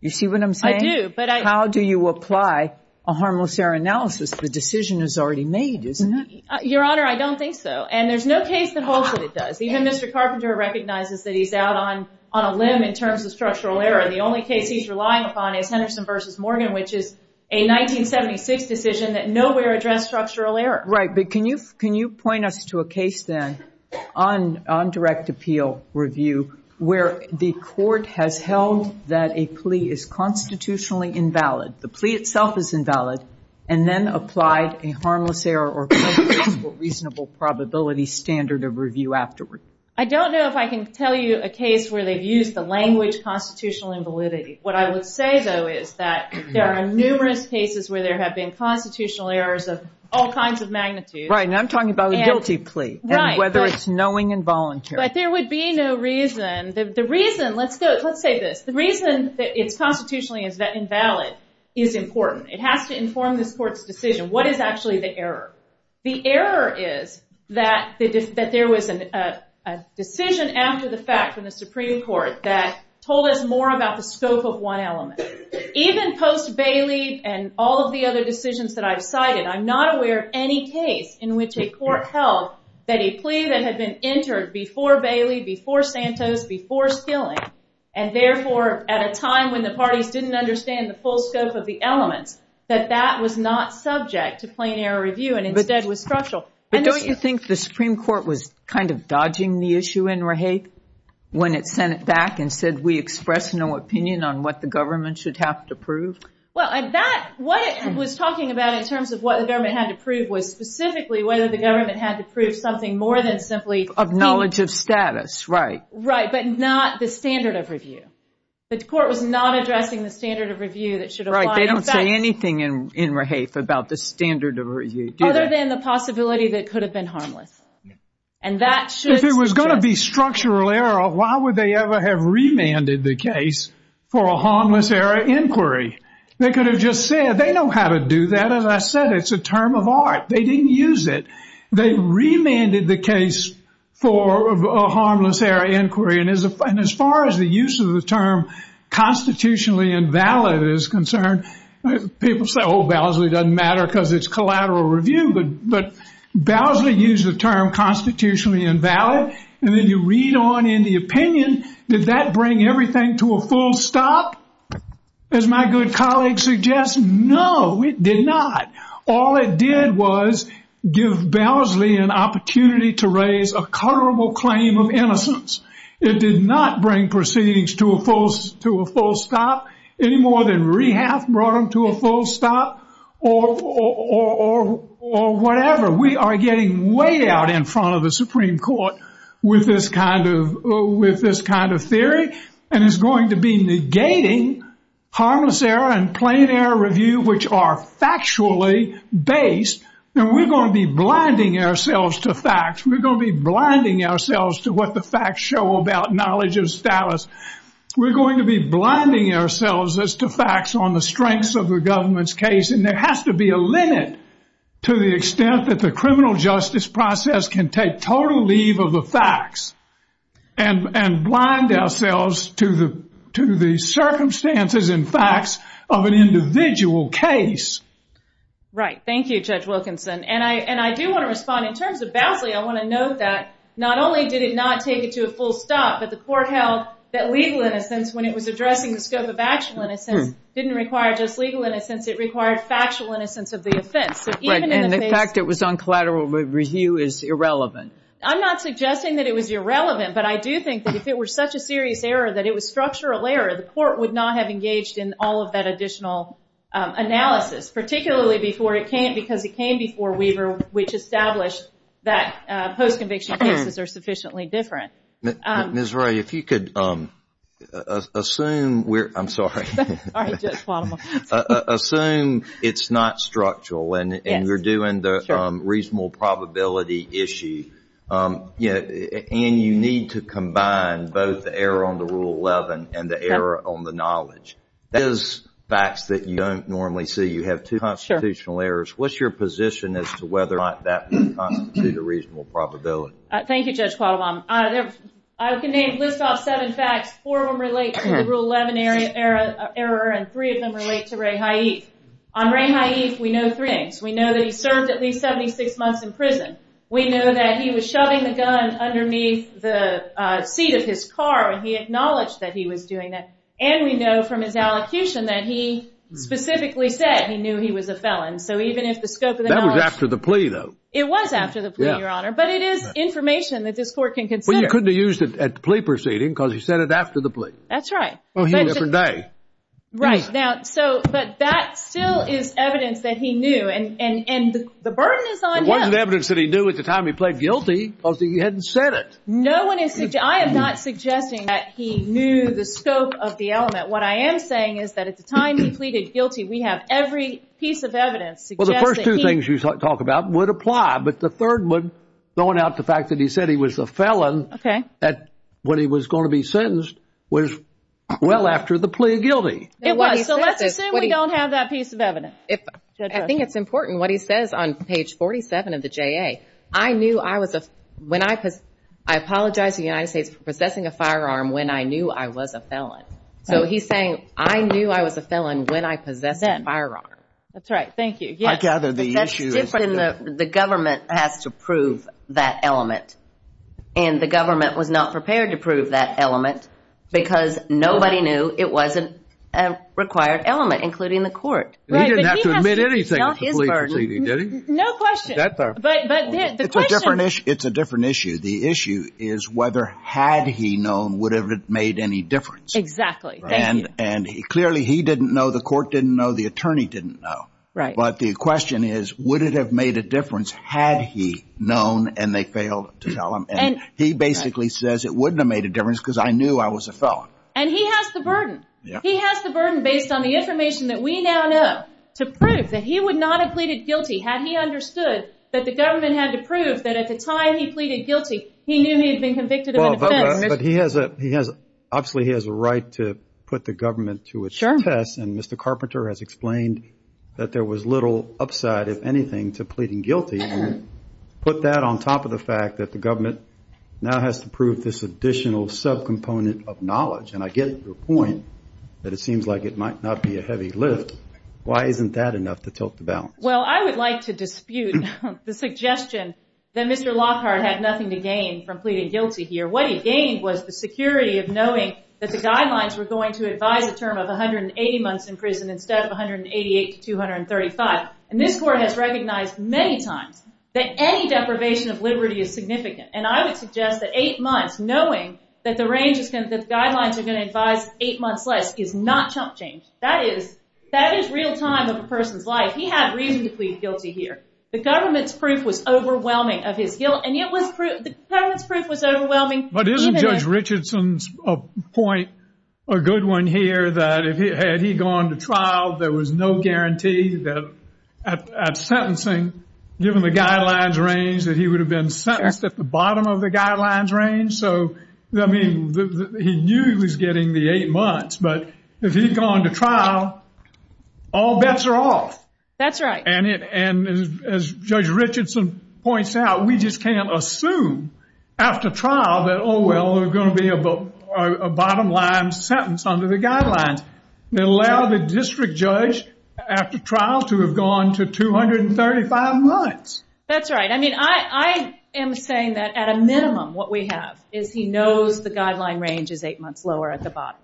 you see what I'm saying? I do, but I— How do you apply a harmless error analysis? The decision is already made, isn't it? Your Honor, I don't think so. And there's no case that holds that it does. Even Mr. Carpenter recognizes that he's out on the only case he's relying upon is Henderson v. Morgan, which is a 1976 decision that nowhere addressed structural error. Right. But can you— can you point us to a case, then, on— on direct appeal review, where the court has held that a plea is constitutionally invalid, the plea itself is invalid, and then applied a harmless error or reasonable probability standard of review afterwards? I don't know if I can tell you a case where they've used the language constitutional invalidity. What I would say, though, is that there are numerous cases where there have been constitutional errors of all kinds of magnitudes. Right. And I'm talking about a guilty plea. Right. And whether it's knowing and voluntary. But there would be no reason— the reason— let's say— let's say this. The reason that it's constitutionally invalid is important. It has to inform this court's decision. What is a decision after the fact from the Supreme Court that told us more about the scope of one element? Even post Bailey and all of the other decisions that I've cited, I'm not aware of any case in which a court held that a plea that had been entered before Bailey, before Santos, before Skilling, and therefore at a time when the parties didn't understand the full scope of the element, that that was not subject to plain error review and it's dead with structural— But don't you think the Supreme Court was kind of dodging the issue in Rahape when it sent it back and said we express no opinion on what the government should have to prove? Well, that— what it was talking about in terms of what the government had to prove was specifically whether the government had to prove something more than simply— Of knowledge of status. Right. Right. But not the standard of review. The court was not addressing the standard of review that should apply— Right. They don't say anything in Rahape about the standard of review, do they? Other than the possibility that it could have been harmless. And that should— If it was going to be structural error, why would they ever have remanded the case for a harmless error inquiry? They could have just said, they know how to do that. As I said, it's a term of art. They didn't use it. They remanded the case for a harmless error inquiry and as far as the use of the term constitutionally invalid is concerned, people say, oh, validly doesn't matter because it's collateral review, but validly use the term constitutionally invalid and then you read on in the opinion, did that bring everything to a full stop? As my good colleague suggests, no, it did not. All it did was give Bowsley an opportunity to raise a colorable claim of innocence. It did not bring proceedings to a full stop any more than Rehab brought them to a full stop or whatever. We are getting way out in front of the Supreme Court with this kind of theory and it's going to be negating harmless error and plain error review, which are factually based. And we're going to be blinding ourselves to facts. We're going to be blinding ourselves to what the facts show about knowledge and status. We're going to be blinding ourselves as to facts on the strengths of the government's case and there has to be a limit to the extent that the criminal justice process can take total leave of the facts and blind ourselves to the circumstances and facts of an individual case. Right. Thank you, Judge Wilkinson. And I do want to respond. In terms of Bowsley, I want to note that not only did it not take it to a full stop, but the court held that legal innocence when it was addressing the scope of actual innocence didn't require just legal innocence. It required factual innocence of the offense. Right. And the fact it was on collateral review is irrelevant. I'm not suggesting that it was irrelevant, but I do think that if it were such a serious error, that it was structural error, the court would not have engaged in all of that additional analysis, particularly because it came before Weaver, which established that post-conviction cases are sufficiently different. Ms. Ray, if you could assume it's not structural and we're doing the reasonable probability issue, and you need to combine both the error on the Rule 11 and the error on the knowledge. Those facts that you don't normally see, you have two constitutional errors, what's your position as to whether or not that constitutes a reasonable probability? Thank you, Judge Padova. As the name lists off seven facts, four of them relate to Rule 11 error, and three of them relate to Ray Haidt. On Ray Haidt, we know three things. We know that he served at least 76 months in prison. We know that he was shoving the gun underneath the seat of his car, and he acknowledged that he was doing that. And we know from his allocution that he specifically said he knew he was a felon. So even if the scope of the- That was after the plea, though. It was after the plea, Your Honor, but it is information that this court can consider. But you couldn't have used it at the plea proceeding, because you said it after the plea. That's right. Oh, he had a different day. Right. But that still is evidence that he knew, and the burden is on him. It wasn't evidence that he knew at the time he pleaded guilty, because he hadn't said it. No one is- I am not suggesting that he knew the scope of the element. What I am saying is that at the time he pleaded guilty, we have every piece of evidence suggesting- The first two things you talk about would apply, but the third one, going out the fact that he said he was a felon when he was going to be sentenced, was well after the plea of guilty. It was. So let's assume we don't have that piece of evidence. I think it's important what he says on page 47 of the JA. I knew I was a- I apologize to the United States for possessing a firearm when I knew I was a felon. So he's saying, I knew I was a felon when I possessed a firearm. That's right. Thank you. I gather the issue is that- The government has to prove that element. And the government was not prepared to prove that element because nobody knew it was a required element, including the court. He didn't have to admit anything at the plea proceeding, did he? No question. But the question- It's a different issue. The issue is whether had he known, would it have made any difference? Exactly. Thank you. And clearly he didn't know, the court didn't know, the attorney didn't know. Right. But the question is, would it have made a difference had he known and they failed to tell him? And he basically says it wouldn't have made a difference because I knew I was a felon. And he has the burden. He has the burden based on the information that we now know to prove that he would not have pleaded guilty had he understood that the government had to prove that at the time he pleaded guilty, he knew he had been convicted of a felony. But he has, obviously, he has a right to put the government to a test. And Mr. Carpenter has explained that there was little upside, if anything, to pleading guilty. Put that on top of the fact that the government now has to prove this additional subcomponent of knowledge. And I get the point that it seems like it might not be a heavy lift. Why isn't that enough to tilt the balance? Well, I would like to dispute the suggestion that Mr. Lockhart had nothing to gain from was the security of knowing that the guidelines were going to advise a term of 180 months in prison instead of 188 to 235. And this court has recognized many times that any deprivation of liberty is significant. And I would suggest that eight months, knowing that the range of sentences guidelines are going to advise eight months less is not chump change. That is real time of a person's life. He had reason to plead guilty here. The government's proof was overwhelming of his guilt. And yet the government's proof was overwhelming. But isn't Judge Richardson's point a good one here that had he gone to trial, there was no guarantee that at sentencing, given the guidelines range, that he would have been sentenced at the bottom of the guidelines range. So, I mean, he knew he was getting the eight months. But if he'd gone to trial, all bets are off. That's right. And as Judge Richardson points out, we just can't assume after trial that, oh, well, there's going to be a bottom line sentence under the guidelines. It allows a district judge after trial to have gone to 235 months. That's right. I mean, I am saying that at a minimum, what we have is he knows the guideline range is eight months lower at the bottom.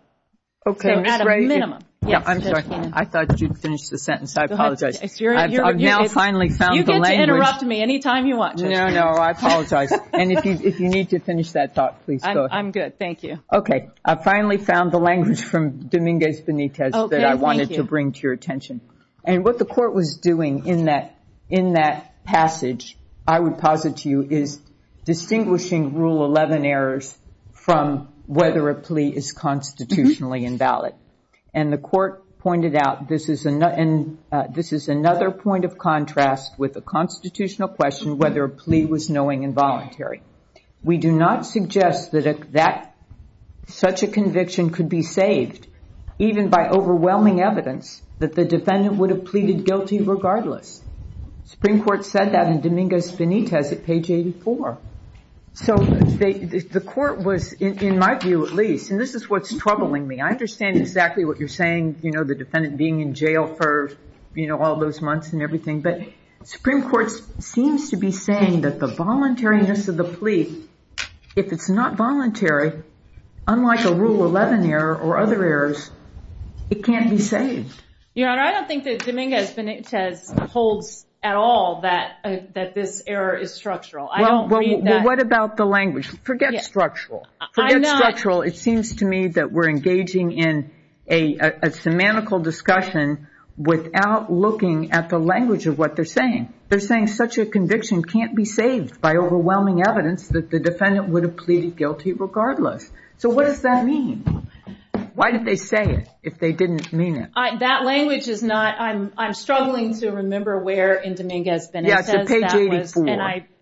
Okay. At a minimum. I'm sorry. I thought you'd finished the sentence. I apologize. I've now finally found the language. You can interrupt me any time you want. No, no, I apologize. And if you need to finish that thought, please. I'm good. Thank you. Okay. I've finally found the language from Dominguez Benitez that I wanted to bring to your attention. And what the court was doing in that passage, I would posit to you, is distinguishing Rule 11 errors from whether a plea is constitutionally invalid. And the court with a constitutional question whether a plea was knowing and voluntary. We do not suggest that such a conviction could be saved even by overwhelming evidence that the defendant would have pleaded guilty regardless. The Supreme Court said that in Dominguez Benitez at page 84. So the court was, in my view at least, and this is what's troubling me. I understand exactly what you're saying, you know, the defendant being in jail for, you know, all those months and everything. But the Supreme Court seems to be saying that the voluntariness of the plea, if it's not voluntary, unlike a Rule 11 error or other errors, it can't be saved. Your Honor, I don't think that Dominguez Benitez holds at all that this error is structural. Well, what about the language? Forget structural. Forget structural. It seems to me that we're at the language of what they're saying. They're saying such a conviction can't be saved by overwhelming evidence that the defendant would have pleaded guilty regardless. So what does that mean? Why did they say it if they didn't mean it? That language is not, I'm struggling to remember where in Dominguez Benitez is. Yeah, it's at page 84.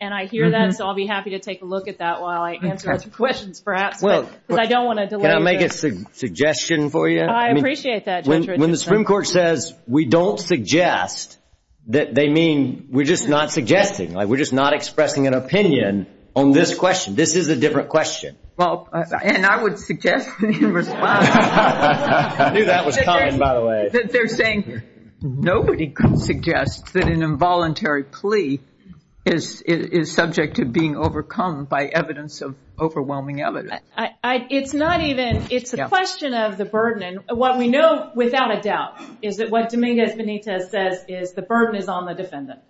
And I hear that, so I'll be happy to take a look at that while I answer questions perhaps, but I don't want to delay. Can I make a suggestion for you? I appreciate that. When the Supreme Court says we don't suggest, that they mean we're just not suggesting, like we're just not expressing an opinion on this question. This is a different question. Well, and I would suggest in response, they're saying nobody can suggest that an involuntary plea is subject to being overcome by evidence of overwhelming evidence. It's not even, it's a question of the burdening. What we know without a doubt is that what Dominguez Benitez says is the burden is on the defendant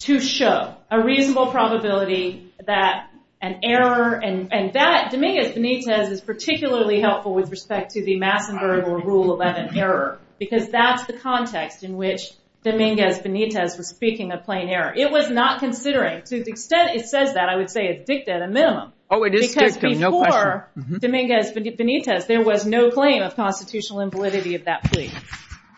to show a reasonable probability that an error, and that Dominguez Benitez is particularly helpful with respect to the Massenger rule of an error, because that's the context in which Dominguez Benitez was speaking of plain error. It was not considering, to the extent it says that, I would say it's dicta at a minimum, because before Dominguez Benitez, there was no claim of constitutional invalidity of that plea.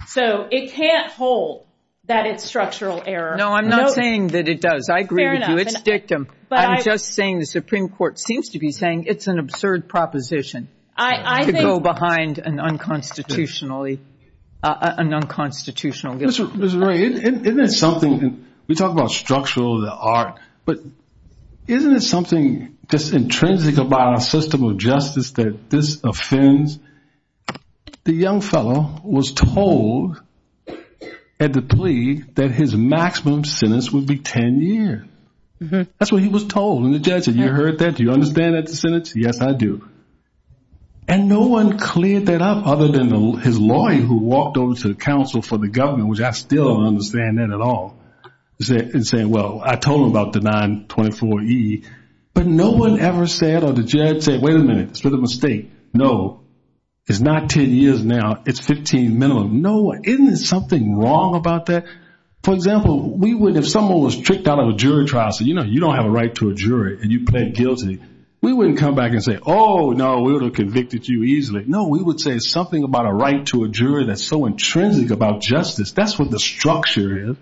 So it can't hold that it's structural error. No, I'm not saying that it does. I agree with you, it's dictum. I'm just saying the Supreme Court seems to be saying it's an absurd proposition to go behind an unconstitutionally, an unconstitutional. Mr. Ray, isn't it something, we talk about structural, the art, but isn't it something just intrinsic about our system of justice that this offends? The young fellow was told at the plea that his maximum sentence would be 10 years. That's what he was told, and the judge, have you heard that? Do you understand that sentence? Yes, I do. And no one cleared that up other than his lawyer who walked over to the counsel for the government, which I still don't understand that at all, and saying, well, I told him about the 924E, but no one ever said, or the judge said, wait a minute, it's a mistake. No, it's not 10 years now, it's 15 minimum. No, isn't something wrong about that? For example, if someone was tricked out of a jury trial, so you don't have a right to a jury and you plead guilty, we wouldn't come back and say, no, we would have convicted you easily. No, we would say something about a right to a jury that's so intrinsic about justice. That's what the structure is.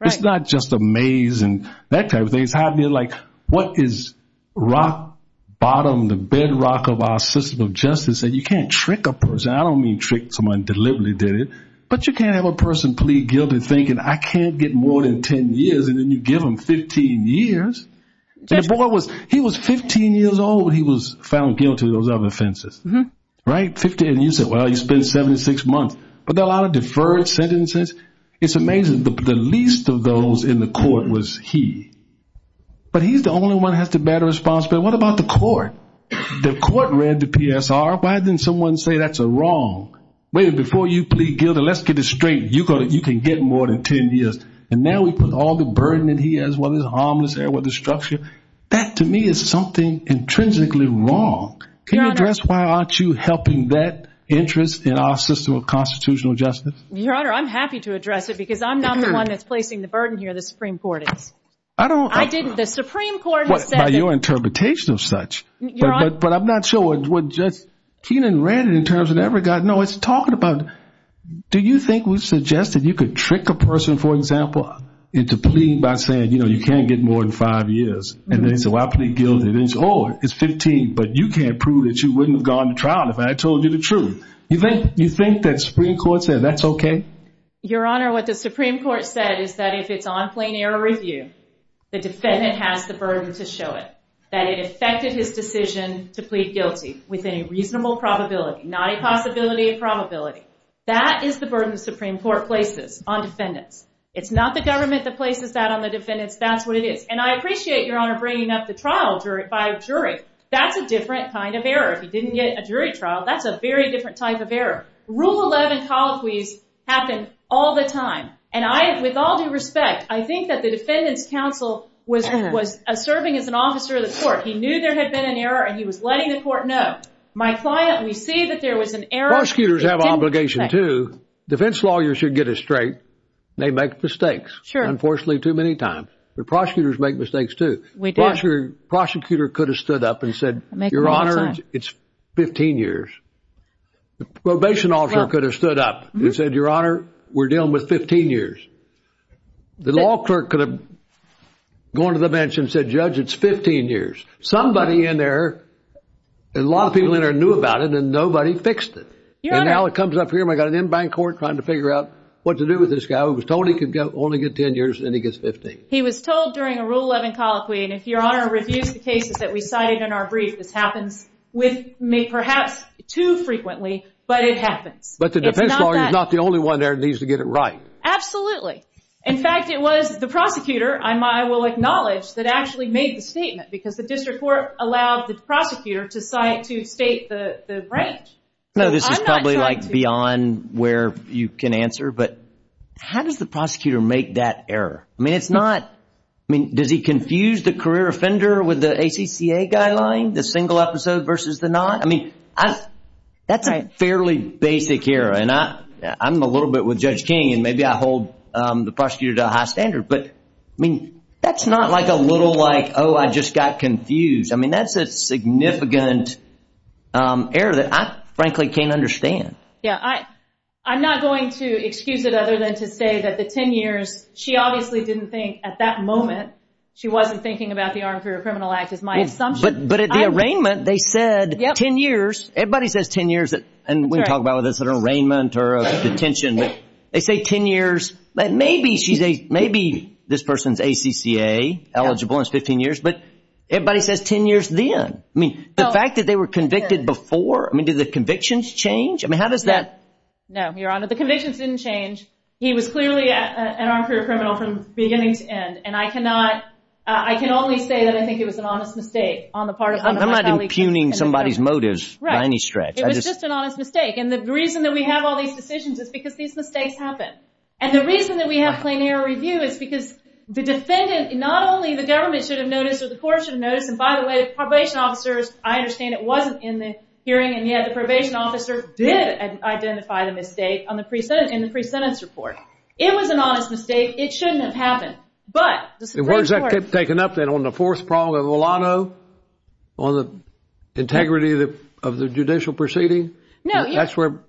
It's not just a maze and that kind of thing. It's happening like, what is rock bottom, the bedrock of our system of justice that you can't trick a person. I don't mean trick someone deliberately did it, but you can't have a person plead guilty thinking I can't get more than 10 years, and then you give them 15 years. That boy was, he was 15 years old when he was found guilty of those other offenses, right? And you said, well, he spent 76 months, but there are a lot of deferred sentences. It's amazing. The least of those in the court was he, but he's the only one that has to bear responsibility. What about the court? The court read the PSR. Why didn't someone say that's a wrong? Wait, before you plead guilty, let's get it straight. You can get more than 10 years, and now we put all the burden that he has while his arm was there with the structure. That to me is something intrinsically wrong. Can you address why aren't you helping that interest in our system of constitutional justice? Your Honor, I'm happy to address it because I'm not the one that's placing the burden here that the Supreme Court is. I didn't, the Supreme Court has said that. By your interpretation of such, but I'm not sure what Kenan ran it in terms of that. No, it's talking about, do you think it was suggested you could trick a person, for example, into pleading by saying, you know, you can't get more than five years, and then so I plead guilty. Then it's, oh, it's 15, but you can't prove that you wouldn't have gone to trial if I told you the truth. You think that Supreme Court said that's okay? Your Honor, what the Supreme Court said is that if it's on plain error review, the defendant has the burden to show it, that it affected his decision to plead guilty with a reasonable probability, not a possibility, a probability. That is the burden the Supreme Court places on defendants. It's not the government that places that on the defendants, that's what it is. And I appreciate your Honor bringing up the trial by a jury. That's a different kind of error. If you didn't get a jury trial, that's a very different type of error. Rule 11 colloquy happens all the time. And I, with all due respect, I think that the defendant's counsel was serving as an officer of the court. He knew there had been an error and he was letting the court know. My client, when he sees that there was an error... Prosecutors have an obligation too. Defense lawyers should get it straight. They make mistakes, unfortunately, too many times. The prosecutors make mistakes too. The prosecutor could have stood up and said, Your Honor, it's 15 years. The probation officer could have stood up and said, Your Honor, we're dealing with 15 years. The law clerk could have gone to the bench and said, Judge, it's 15 years. Somebody in there and a lot of people in there knew about it and nobody fixed it. And now it comes up here and I've got an in-bank court trying to figure out what to do with this guy who was told he could only get 10 years and then he gets 15. He was told during a Rule 11 colloquy, and if Your Honor reviews the cases that we cited in our brief, this happens with me perhaps too frequently, but it happens. But the defense lawyer is not the prosecutor, I will acknowledge, that actually made the statement because the district court allowed the prosecutor to cite to state the branch. No, this is probably like beyond where you can answer, but how does the prosecutor make that error? I mean, it's not... I mean, does he confuse the career offender with the ATTA guideline, the single episode versus the not? I mean, that's a fairly basic error and I'm a little bit with Judge King and maybe I hold the prosecutor to a high standard, but I mean, that's not like a little like, oh, I just got confused. I mean, that's a significant error that I frankly can't understand. Yeah, I'm not going to excuse it other than to say that the 10 years, she obviously didn't think at that moment, she wasn't thinking about the Armed Career Criminal Act, is my assumption. But at the arraignment, they said 10 years, everybody says 10 years, and we talk about this at an arraignment or a detention, they say 10 years, but maybe she's a, maybe this person's ACCA eligible and it's 15 years, but everybody says 10 years then. I mean, the fact that they were convicted before, I mean, did the convictions change? I mean, how does that... No, Your Honor, the convictions didn't change. He was clearly an armed career criminal from beginning to end and I cannot, I can only say that I think it was an honest mistake on the part of... I'm not impugning somebody's motives by any stretch. It was just an honest mistake and the reason that we have all these decisions is because these mistakes happen. And the reason that we have plenary review is because the defendant, not only the government should have noticed or the court should have noticed, and by the way, the probation officers, I understand it wasn't in the hearing and yet the probation officer did identify the mistake in the pre-sentence report. It was an honest mistake. It shouldn't have happened, but... The words that kept taking up then on the fourth prong of the lotto, on the integrity of the judicial proceeding, that's where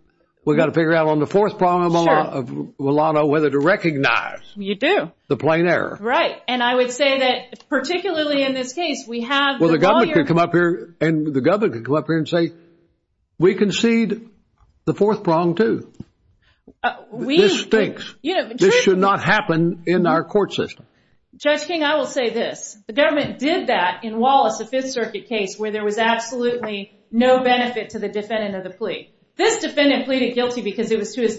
we got to the fourth prong of the lotto, whether to recognize the plain error. Right. And I would say that particularly in this case, we have... Well, the government can come up here and say, we concede the fourth prong too. This stinks. This should not happen in our court system. Judge King, I will say this. The government did that in Wallace, the Fifth Circuit case, where there was absolutely no benefit to the defendant or the plea. This defendant pleaded guilty because it was to his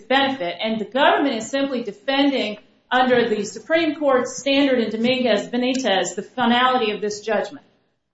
benefit, and the government simply defending under the Supreme Court standard in Dominguez-Benitez the finality of this judgment.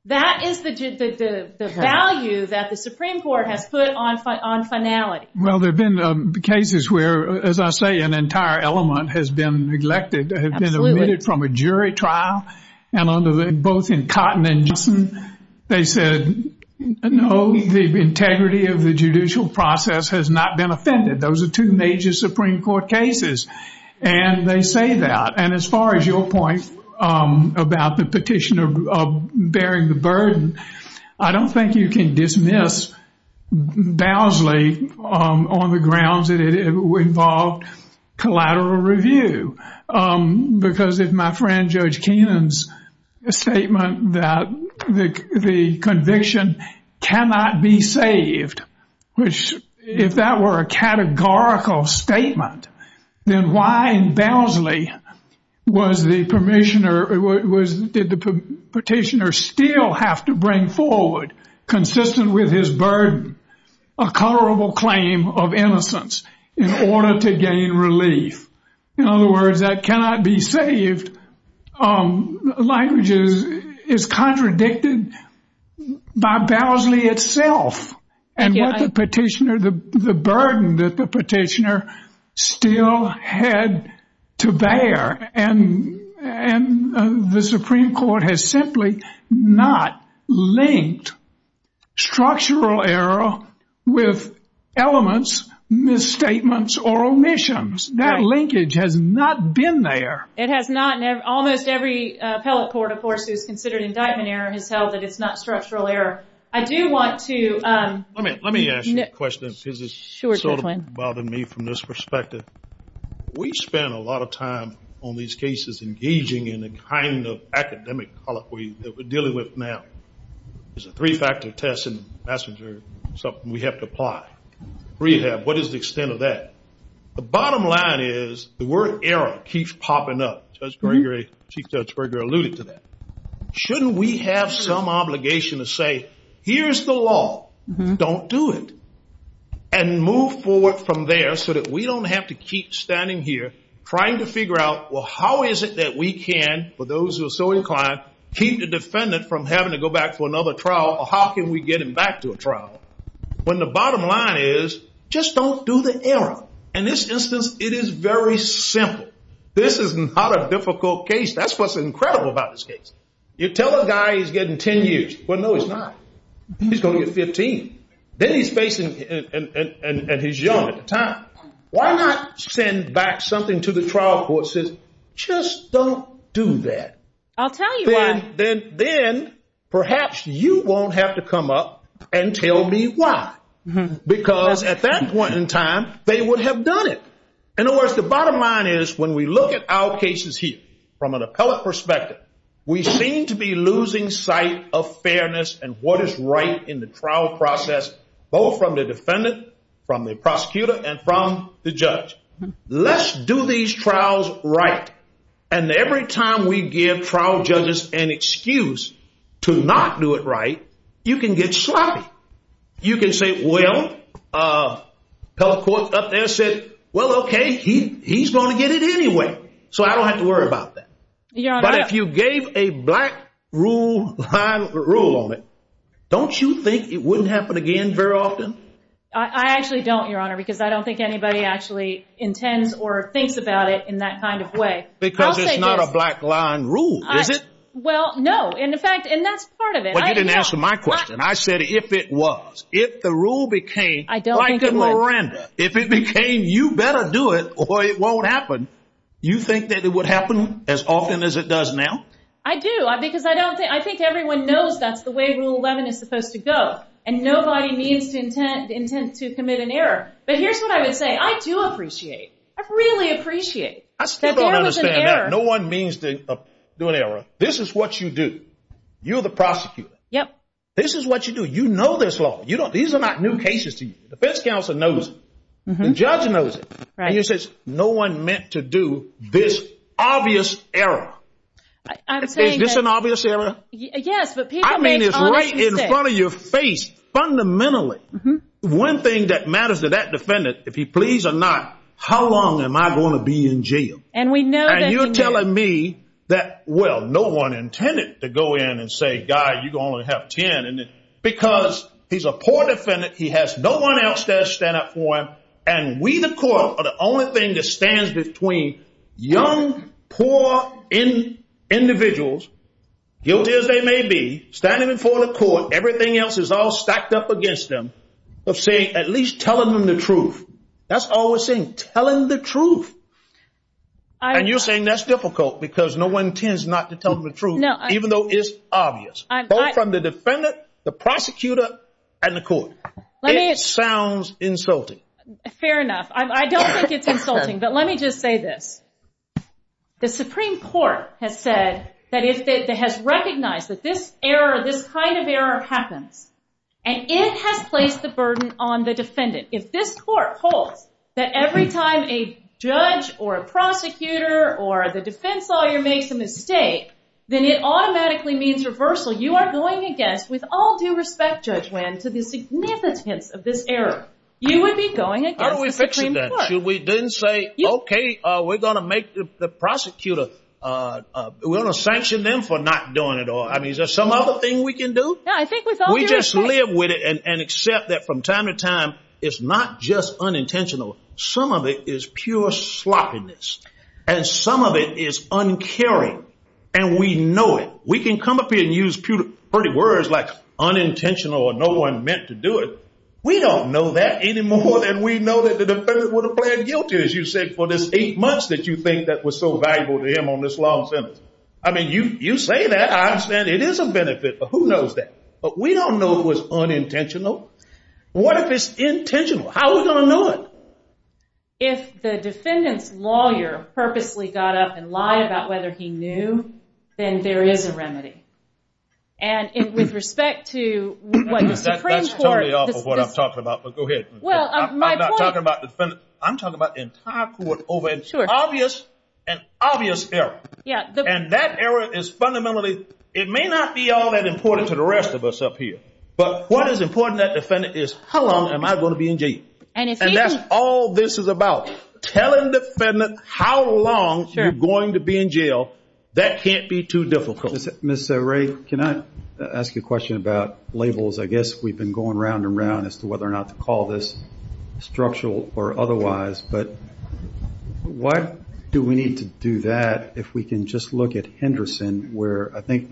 That is the value that the Supreme Court has put on finality. Well, there have been cases where, as I say, an entire element has been neglected, has been omitted from a jury trial, and both in Cotton and Johnson, they said, no, the integrity of the judicial process has not been offended. Those are two major Supreme Court cases, and they say that. And as far as your point about the petition of bearing the burden, I don't think you can dismiss Bowsley on the grounds that it involved collateral review. Because if my friend Judge Keenan's statement that the conviction cannot be saved, if that were a categorical statement, then why in Bowsley did the petitioner still have to bring forward, consistent with his burden, a colorable claim of innocence in order to gain relief? In other words, that cannot be saved language is contradicted by Bowsley itself, and what the petitioner, the burden that the petitioner still had to bear, and the Supreme Court has simply not linked structural error with elements, misstatements, or omissions. That linkage has not been there. It has not. Almost every appellate court, of course, who's considered indictment error has held that it's not structural error. I do want to- Let me ask you a question because it's sort of bothered me from this perspective. We spend a lot of time on these cases engaging in the kind of academic colloquy that we're dealing with now. It's a three-factor test and that's something we have to apply. Rehab, what is the extent of that? The bottom line is the word error keeps popping up. Judge Gregory, Chief Judge Gregory alluded to that. Shouldn't we have some obligation to say, here's the law, don't do it, and move forward from there so that we don't have to keep standing here trying to figure out, well, how is it that we can, for those who are so inclined, keep the defendant from having to go back to another trial or how can we get him back to a trial? When the bottom line is, just don't do the error. In this instance, it is very simple. This is not a difficult case. That's what's incredible about this case. You tell a guy he's getting 10 years. Well, no, he's not. He's going to get 15. Then he's facing and he's young at the time. Why not send back something to the trial court that says, just don't do that? I'll tell you why. Then perhaps you won't have to come up and tell me why because at that point in time, they would have done it. In other words, the bottom line is when we look at our cases here from an appellate perspective, we seem to be losing sight of fairness and what is right in the trial process, both from the defendant, from the prosecutor, and from the judge. Let's do these trials right. Every time we give trial judges an excuse to not do it right, you can get sloppy. You can say, well, appellate court up there said, well, okay, he's going to get it anyway, so I don't have to worry about that. But if you gave a black rule on it, don't you think it wouldn't happen again very often? I actually don't, Your Honor, because I don't think anybody actually intends or thinks about it in that kind of way. Because it's not a black line rule, is it? Well, no. In fact, and that's part of it. But you didn't answer my question. I said if it was. If the rule became like in Miranda, if it became you better do it or it won't happen, you think that it would happen as often as it does now? I do, because I think everyone knows that's the way Rule 11 is supposed to go, and nobody intends to commit an error. But here's what I would say. I do appreciate it. I really appreciate it. I still don't understand that. No one means to do an error. This is what you do. You're the prosecutor. This is what you do. You know this law. These are not new cases to you. The defense counsel knows it. The judge knows it. And you say, no one meant to do this obvious error. Is this an obvious error? I mean, it's right in front of your face, fundamentally. One thing that matters to that defendant, if he pleads or not, how long am I going to be in jail? And you're telling me that, well, no one intended to go in and say, guy, you can only have 10, because he's a poor defendant. He has no one else there to stand up for him. And we, the court, are the only thing that stands between young, poor individuals, guilty as they may be, standing in front of court, everything else is all stacked up against them, at least telling them the truth. That's all we're saying, telling the truth. And you're saying that's difficult, because no one intends not to tell them the truth, even though it's obvious, both from the defendant, the prosecutor, and the court. It sounds insulting. Fair enough. I don't think it's insulting, but let me just say this. The Supreme Court has said that it has recognized that this error, this kind of error happens. And it has placed the burden on the defendant. If this court holds that every time a judge or a prosecutor or the defense lawyer makes a mistake, then it automatically means reversal. You are going against, with all due respect, Judge Land, the significance of this error. You would be going against the Supreme Court. We didn't say, okay, we're going to make the prosecutor, we're going to sanction them for not doing it all. I mean, is there some other thing we can do? We just live with it and accept that from time to time, it's not just unintentional. Some of it is pure sloppiness, and some of it is uncaring, and we know it. We can come up here and use pretty words like unintentional or no one meant to do it. We don't know that anymore, and we know that the defendant would have pleaded guilty, as you said, for this eight months that you think that was so valuable to him on this long sentence. I mean, you say that. I understand it is a benefit, but who knows that? But we don't know it was unintentional. What if it's intentional? How are we going to know it? If the defendant's lawyer purposely got up and lied about whether he knew, then there is a remedy. And with respect to what the Supreme Court... That's starting off of what I'm talking about, but go ahead. I'm not talking about the defendant. I'm talking about the entire court over an obvious error, and that error is fundamentally... But what is important to that defendant is how long am I going to be in jail? And that's all this is about, telling the defendant how long you're going to be in jail. That can't be too difficult. Mr. Ray, can I ask you a question about labels? I guess we've been going round and round as to whether or not to call this structural or otherwise, but why do we need to do that if we can just look at Henderson, where I think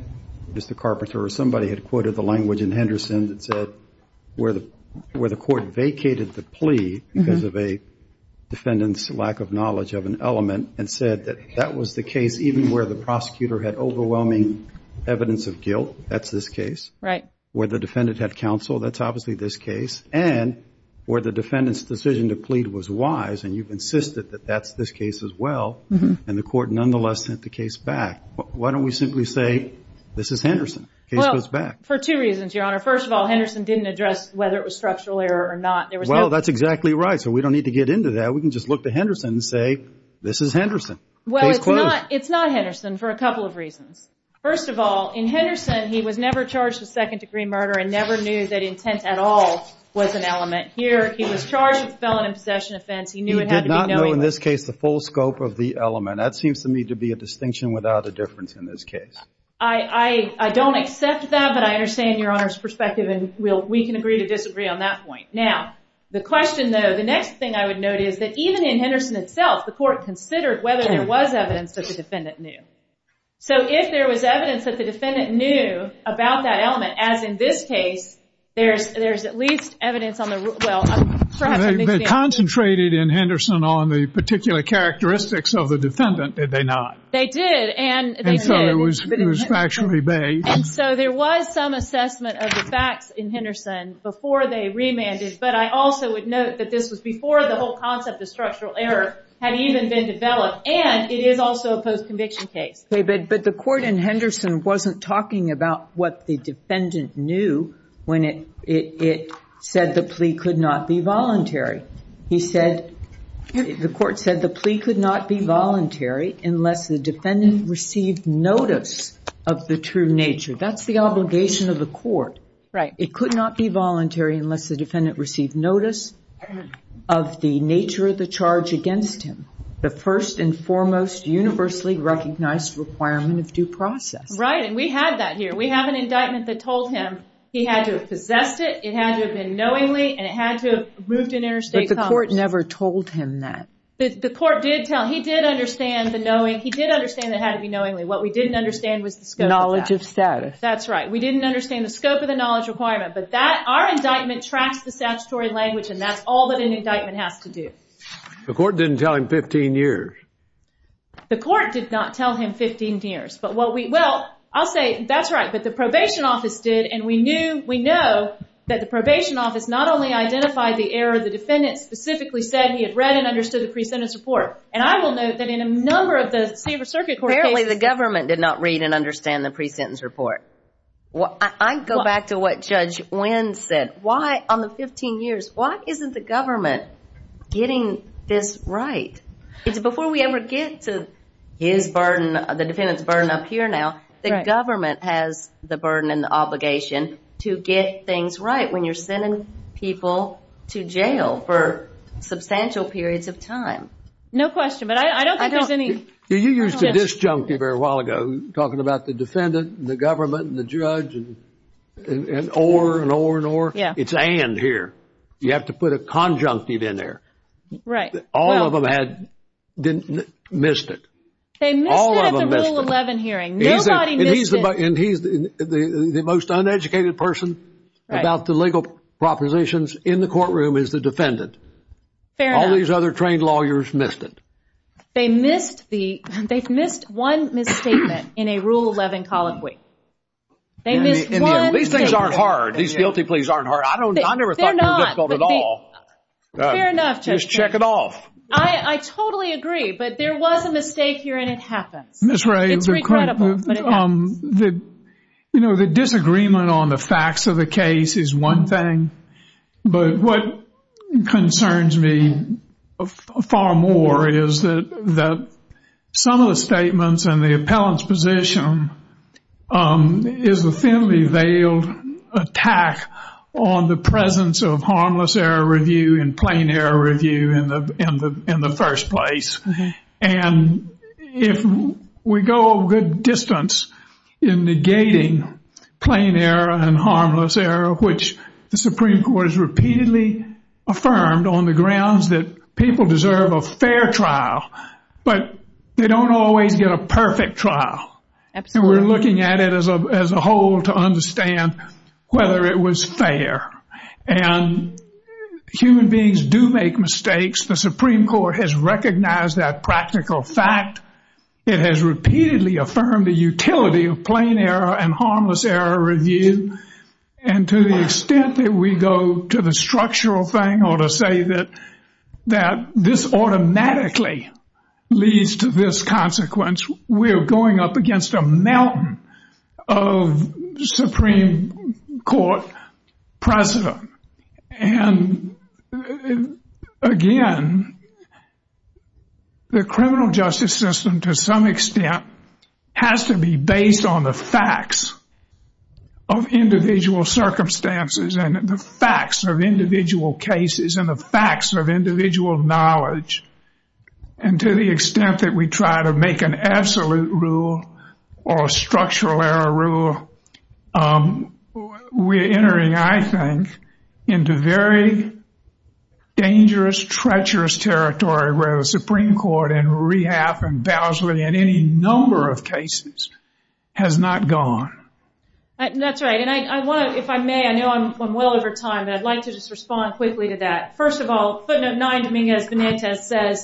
Mr. Carpenter or somebody had quoted the language in Henderson that said where the court vacated the plea because of a defendant's lack of knowledge of an element, and said that that was the case even where the prosecutor had overwhelming evidence of guilt, that's this case, where the defendant had counsel, that's obviously this case, and where the defendant's decision to plead was wise, and you've insisted that that's this case as well, and the court nonetheless sent the case back. Why don't we simply say this is Henderson? For two reasons, your honor. First of all, Henderson didn't address whether it was structural error or not. Well, that's exactly right, so we don't need to get into that. We can just look to Henderson and say this is Henderson. Well, it's not Henderson for a couple of reasons. First of all, in Henderson, he was never charged with second degree murder and never knew that intent at all was an element. Here, he was charged with felony possession offense. He did not know, in this case, the full scope of the element. That seems to me to be a distinction without a difference in this case. I don't accept that, but I understand your honor's perspective, and we can agree to disagree on that point. Now, the question, though, the next thing I would note is that even in Henderson itself, the court considered whether there was evidence that the defendant knew. So, if there was evidence that the defendant knew about that element, as in this case, there's at least evidence on the, well, I'm sure I have a good chance. Concentrated in Henderson on the particular characteristics of the defendant, did they not? They did, and they did. So, it was factually based. So, there was some assessment of the facts in Henderson before they remanded, but I also would note that this was before the whole concept of structural error had even been developed, and it is also a post-conviction case. David, but the court in Henderson wasn't talking about what the defendant knew when it said the plea could not be voluntary. He said, the court said the plea could not be voluntary unless the defendant received notice of the true nature. That's the obligation of the court. Right. It could not be voluntary unless the defendant received notice of the nature of the charge against him. The first and foremost universally recognized requirement of due process. Right, and we have that here. We have an indictment that told him he had to have possessed it, it had to have been knowingly, and it had to have moved in interstate commerce. But the court never told him that. The court did tell, he did understand the knowing, he did understand it had to be knowingly. What we didn't understand was the scope of that. Knowledge of status. That's right. We didn't understand the scope of the knowledge requirement, but that, our indictment tracks the statutory language, and that's all that an indictment has to do. The court didn't tell him 15 years. The court did not tell him 15 years. But what we, well, I'll say, that's right, but the probation office did, and we knew, we know that the probation office not only identified the error, the defendant specifically said he had read and understood the pre-sentence report. And I will note that in a number of those favor circuit court cases. Apparently the government did not read and understand the pre-sentence report. I go back to what Judge Wynn said. Why, on the 15 years, why isn't the government getting this right? Because before we ever get to his burden, the defendant's burden up here now, the government has the burden and the obligation to get things right when you're sending people to jail for substantial periods of time. No question, but I don't think there's any. You used to disjunct it a while ago, talking about the defendant and the government and the judge and or, and or, and or. It's and here. You have to put a conjunctive in there. All of them had missed it. They missed it at the Rule 11 hearing. Nobody missed it. And he's the most uneducated person about the legal propositions in the courtroom is the defendant. All these other trained lawyers missed it. They missed the, they've missed one misstatement in a Rule 11 colloquy. These things aren't hard. These guilty pleas aren't hard. I don't, I never thought they were difficult at all. Fair enough. Just check it off. I totally agree, but there was a mistake here and it happened. Ms. Ray, you know, the disagreement on the facts of the case is one thing, but what concerns me far more is that some of the statements and the appellant's position is a thinly veiled attack on the presence of harmless error review and plain error review in the, in the, in the first place. And if we go a good distance in negating plain error and harmless error, which the Supreme Court has repeatedly affirmed on the grounds that people deserve a fair trial, but they don't always get a perfect trial. And we're looking at it as a whole to understand whether it was fair. And human beings do make mistakes. The Supreme Court has recognized that practical fact. It has repeatedly affirmed the utility of plain error and harmless error review and to the extent that we go to the structural thing or to say that, that this automatically leads to this consequence, we're going up against a mountain of Supreme Court precedent. And again, the criminal justice system to some extent has to be based on the facts of individual circumstances and the facts of individual cases and the facts of individual knowledge. And to the extent that we try to make an absolute rule or a structural error rule, we're entering, I think, into very dangerous, treacherous territory where the Supreme Court and Rehab and Bousley and any number of cases has not gone. That's right. And I want to, if I may, I know I'm well over time, I'd like to just respond quickly to that. First of all, footnote 9, as Dinesh has said,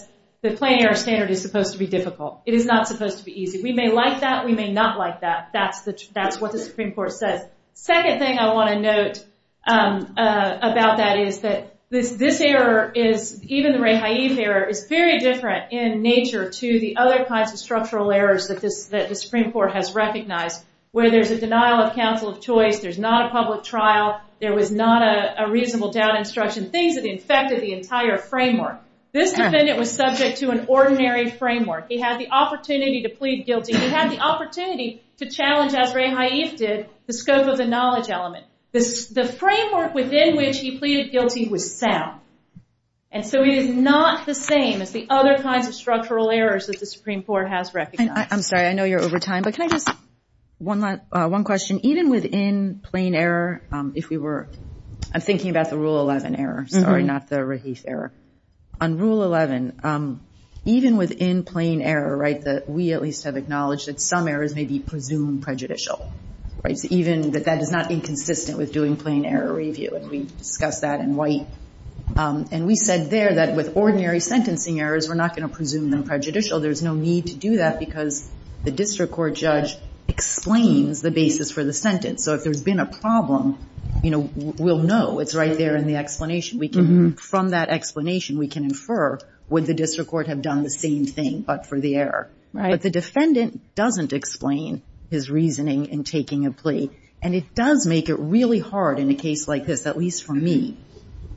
the plain error standard is supposed to be difficult. It is not supposed to be easy. We may like that. We may not like that. That's what the Supreme Court says. Second thing I want to note about that is that this error is, even the Hayib error, is very different in nature to the other kinds of structural errors that the Supreme Court has recognized, whether it's a denial of counsel of choice, there's not a public trial, there was not a reasonable doubt instruction, things that infected the entire framework. This defendant was subject to an ordinary framework. He had the opportunity to plead guilty. He had the opportunity to challenge, as Ray Hayib did, the scope of the knowledge element. The framework within which he pleaded guilty was sound. And so it is not the same as the other kinds of structural errors that the Supreme Court has recognized. I'm sorry, I know you're over time, but can I just, one last, one question. Even within plain error, if we were, I'm thinking about the Rule 11 error, sorry, not the Ray Hayib error. On Rule 11, even within plain error, right, that we at least have acknowledged that some errors may be presumed prejudicial, right, even that that is not inconsistent with doing plain error review, and we discussed that in white. And we said there that with ordinary sentencing errors, we're not going to presume them prejudicial. There's no need to do that because the district court judge explains the basis for the sentence. So if there's been a problem, you know, we'll know. It's right there in the explanation. We can, from that explanation, we can infer, would the district court have done the same thing, but for the error? If the defendant doesn't explain his reasoning in plain error, and it does make it really hard in a case like this, at least for me,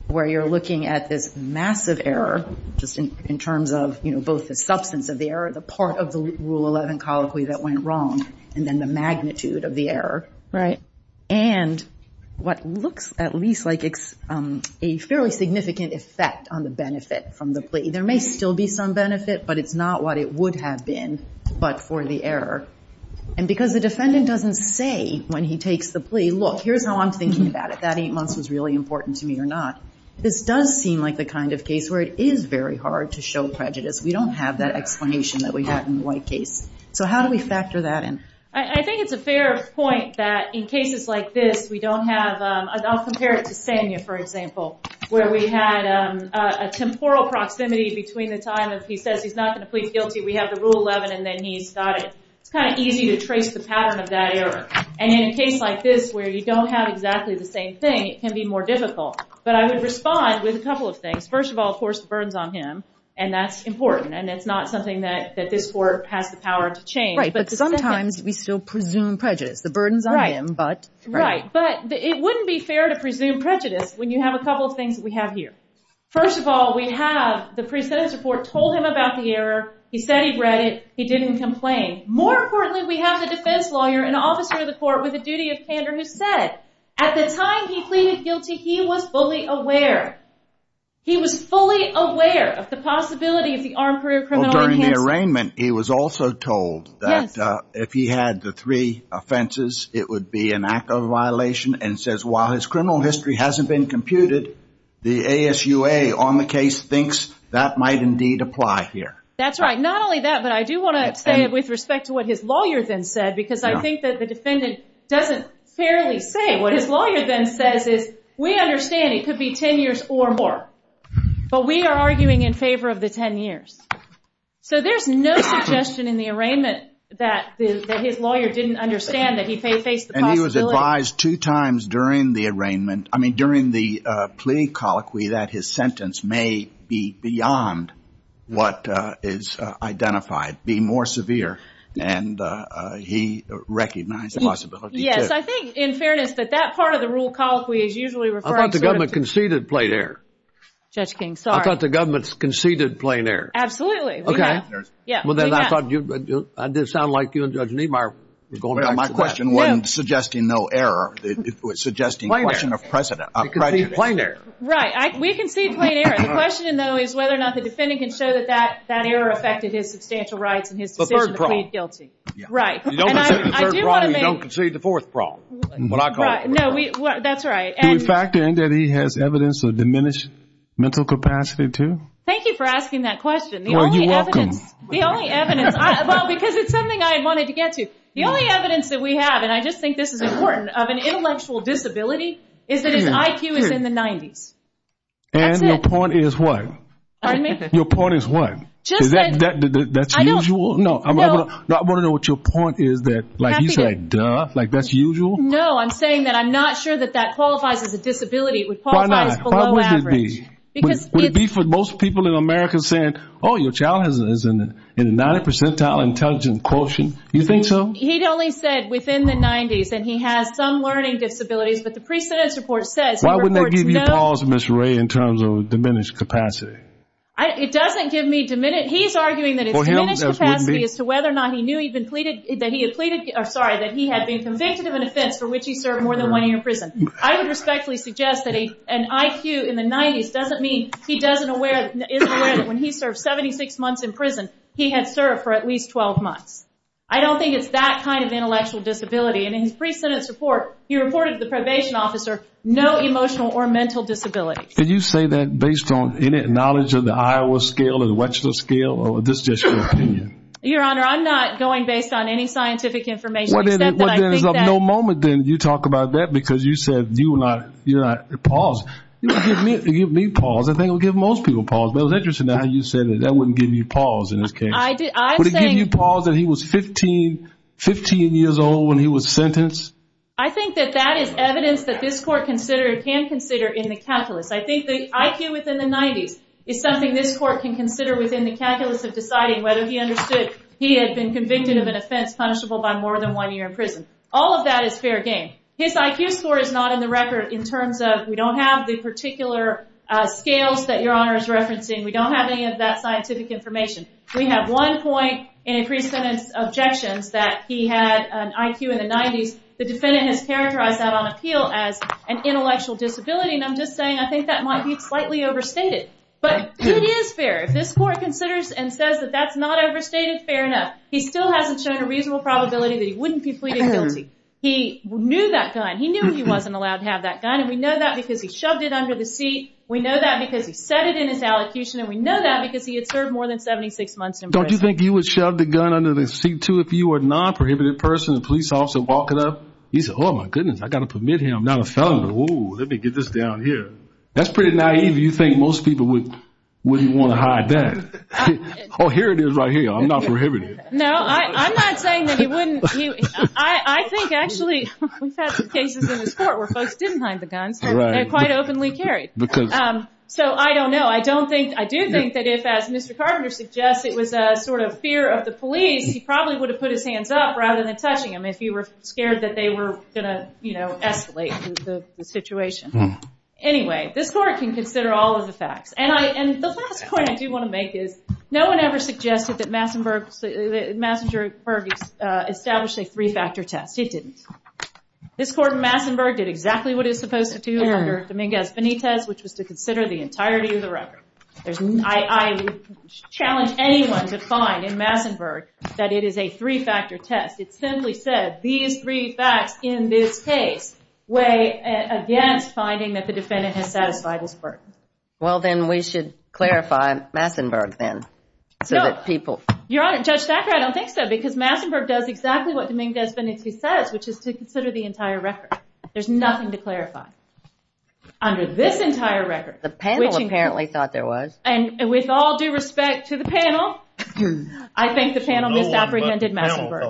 where you're looking at this massive error, just in terms of, you know, both the substance of the error, the part of the Rule 11 colloquy that went wrong, and then the magnitude of the error. Right. And what looks at least like a fairly significant effect on the benefit from the plea. There may still be some benefit, but it's not what it would have been, but for the error. And because the defendant doesn't say when he takes the plea, look, here's how I'm thinking about it. That eight months was really important to me or not. This does seem like the kind of case where it is very hard to show prejudice. We don't have that explanation that we had in the white case. So how do we factor that in? I think it's a fair point that in cases like this, we don't have, I'll compare it to Stania, for example, where we had a temporal proximity between the time that he says he's not going to plead guilty, we have the Rule 11, and then he's kind of easy to trace the pattern of that error. And in a case like this where you don't have exactly the same thing, it can be more difficult. But I would respond with a couple of things. First of all, of course, the burden's on him, and that's important, and it's not something that this Court has the power to change. Right. But sometimes we still presume prejudice. The burden's on him, but... Right. But it wouldn't be fair to presume prejudice when you have a couple of things that we have here. First of all, we have the preceptor foretold him about the error, he said he read it, he didn't complain. More importantly, we have the defense lawyer and officer of the court with a duty of standard who said, at the time he pleaded guilty, he was fully aware. He was fully aware of the possibility of the armed career criminal... Well, during the arraignment, he was also told that if he had the three offenses, it would be an act of violation, and says, while his criminal history hasn't been computed, the ASUA on the case thinks that might indeed apply here. That's right. Not only that, but I do want to explain it with respect to what his lawyer then said, because I think that the defendant doesn't clearly say. What his lawyer then says is, we understand it could be 10 years or more, but we are arguing in favor of the 10 years. So there's no suggestion in the arraignment that his lawyer didn't understand that he faced the possibility... And he was advised two times during the plea colloquy that his sentence may be beyond what is identified, be more severe, and he recognized the possibility. Yes. I think, in fairness, that that part of the rule colloquy is usually referred to... I thought the government conceded plain error. Judge King, sorry. I thought the government conceded plain error. Absolutely. Okay. Well, then I thought I did sound like you and Judge Niemeyer. My question wasn't suggesting no error. It was suggesting question of precedent. Right. We conceded plain error. The question, though, is whether or not the defendant can show that that error affected his substantial rights and his decision to plead guilty. Right. You don't concede the third wrong, you don't concede the fourth wrong. That's right. In fact, then, that he has evidence of diminished mental capacity, too? Thank you for asking that question. You're welcome. The only evidence... Well, because it's something I wanted to get to. The only evidence that we have is that the defendant has a disability within the 90s. And your point is what? Your point is what? Is that the usual? No. I want to know what your point is that, like you said, duh, like that's usual? No. I'm saying that I'm not sure that that qualifies as a disability. It would qualify as below average. Why not? Why would it be? Would it be for most people in America saying, oh, your child is in a 90 percentile intelligent quotient? Do you think so? He only said within the 90s, and he has some learning disabilities, but the precedent report says... Why wouldn't it give you pause, Ms. Ray, in terms of diminished capacity? It doesn't give me diminished... He's arguing that it's diminished capacity as to whether or not he knew that he had been convicted of an offense for which he served more than one year in prison. I would respectfully suggest that an IQ in the 90s doesn't mean he isn't aware that when he served 76 months in prison, he had served for at least 12 months. I don't think it's that kind of intellectual disability. And in the precedent report, he reported the probation officer no emotional or mental disability. Did you say that based on any knowledge of the Iowa scale or the Wechsler scale, or is this just your opinion? Your Honor, I'm not going based on any scientific information. Well, there is no moment that you talk about that because you said you're not at pause. It would give me pause. I think it would give most people pause, but it was interesting how you said that that wouldn't give you pause in this case. Would it give you pause that he was 15 years old when he was sentenced? I think that that is evidence that this court can consider in the calculus. I think the IQ within the 90s is something this court can consider within the calculus of deciding whether he understood he had been convicted of an offense punishable by more than one year in prison. All of that is fair game. His IQ score is not in the record in terms of we don't have the particular scales that Your Honor is referencing. We don't have any of that scientific information. We have one point in increased sentence objections that he had an IQ in the 90s. The defendant has characterized that on appeal as an intellectual disability, and I'm just saying I think that might be slightly overstated, but it is fair. This court considers and says that that's not overstated fair enough. He still hasn't shown a reasonable probability that he wouldn't be pleaded guilty. He knew that gun. He knew he wasn't allowed to have that gun, and we know that because he shoved it under the seat. We know that because he said it in his allocution, and we know that because he has served more than 76 months in prison. Don't you think you would shove the gun under the seat, too, if you were a non-prohibited person, a police officer walking up? He said, oh, my goodness. I've got to permit him. I'm not a felon. Oh, let me get this down here. That's pretty naive. You think most people wouldn't want to hide that. Oh, here it is right here. I'm not prohibiting it. No, I'm not saying that you wouldn't. I think, actually, we've had some cases in this court where folks didn't hide the gun. I don't know. I do think that if, as Mr. Carter suggests, it was a sort of fear of the police, he probably would have put his hands up rather than touching them if he were scared that they were going to, you know, escalate the situation. Anyway, this court can consider all of the facts, and the last point I do want to make is no one ever suggested that Massenburg established a three-factor test. It didn't. This court in Massenburg did exactly what it's required to do the record. I challenge anyone to find in Massenburg that it is a three-factor test. It simply says, these three facts in this case weigh against finding that the defendant has satisfied his burden. Well, then we should clarify Massenburg, then, so that people... Your Honor, Judge Thacker, I don't think so, because Massenburg does exactly what the main destiny says, which is to consider the entire record. There's nothing to clarify. Under this entire record, the panel apparently thought there was, and with all due respect to the panel, I think the panel misapprehended Massenburg.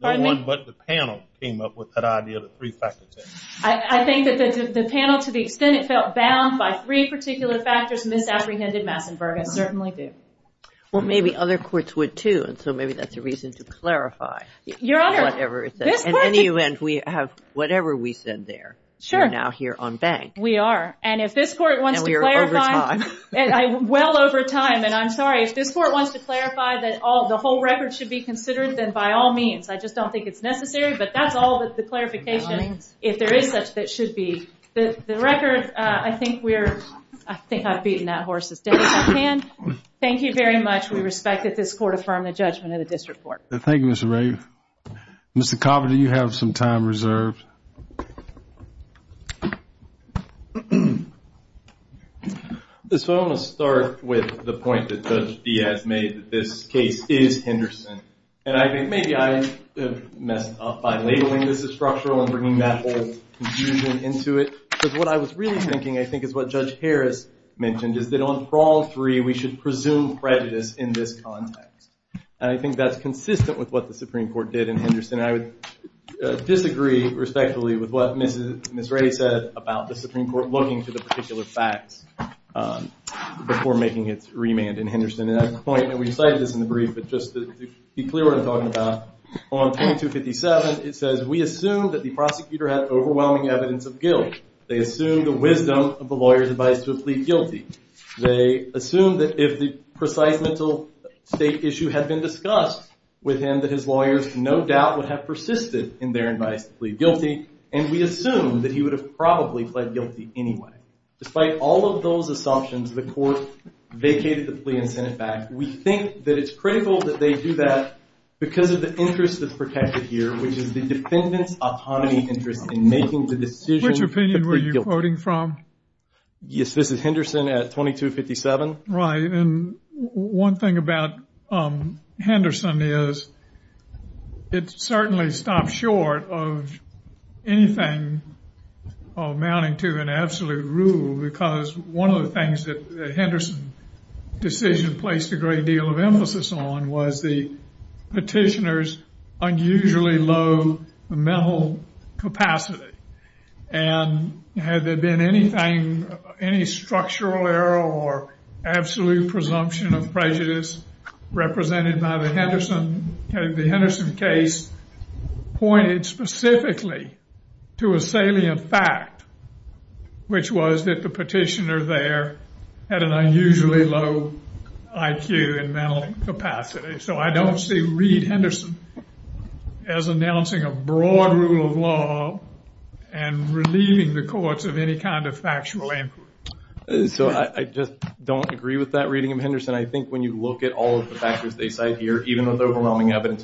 No one but the panel came up with that idea of a three-factor test. I think that the panel, to the extent it felt bound by three particular factors, misapprehended Massenburg. It certainly did. Well, maybe other courts would, too, and so maybe that's a reason to clarify. Your Honor, this court... In any event, we have whatever we said there. Sure. We're now here on bank. We are, and if this court wants to clarify... And we are over time. Well over time, and I'm sorry. If this court wants to clarify that the whole record should be considered, then by all means. I just don't think it's necessary, but that's all that's the clarification, if there is such that should be. The record, I think we're... I think I've beaten that horse as best I can. Thank you very much. We respect that this court affirmed the judgment of the district court. Thank you, Ms. Rafe. Mr. Coffin, do you have some time reserved? So I'm going to start with the point that Judge Diaz made, that this case is Henderson, and I think maybe I messed up by labeling this as structural and bringing that whole confusion into it, because what I was really thinking, I think, is what Judge Harris mentioned, is that on all three, we should presume prejudice in this context, and I think that's disagree, respectively, with what Ms. Rafe said about the Supreme Court looking to the particular facts before making its remand in Henderson, and at this point, I'm going to recite this in the brief, but just to be clear on what I'm talking about. On 2257, it says, we assume that the prosecutor has overwhelming evidence of guilt. They assume the wisdom of the lawyer is advised to plead guilty. They assume that if the precise mental state issue had been discussed with him, his lawyers no doubt would have persisted in their nightly guilty, and we assume that he would have probably pled guilty anyway. Despite all of those assumptions, the court vacated the plea intent back. We think that it's critical that they do that because of the interest that's protected here, which is the defendant's autonomy interest in making the decision. Which opinion were you It certainly stops short of anything amounting to an absolute rule, because one of the things that Henderson's decision placed a great deal of emphasis on was the petitioner's unusually low mental capacity, and had there been anything, any structural error or absolute presumption of guilt, the Henderson case pointed specifically to a salient fact, which was that the petitioner there had an unusually low IQ and mental capacity. So I don't see Reed Henderson as announcing a broad rule of law and relieving the courts of any kind of factual input. So I just don't agree with that reading, Henderson. I think when you look at all of the evidence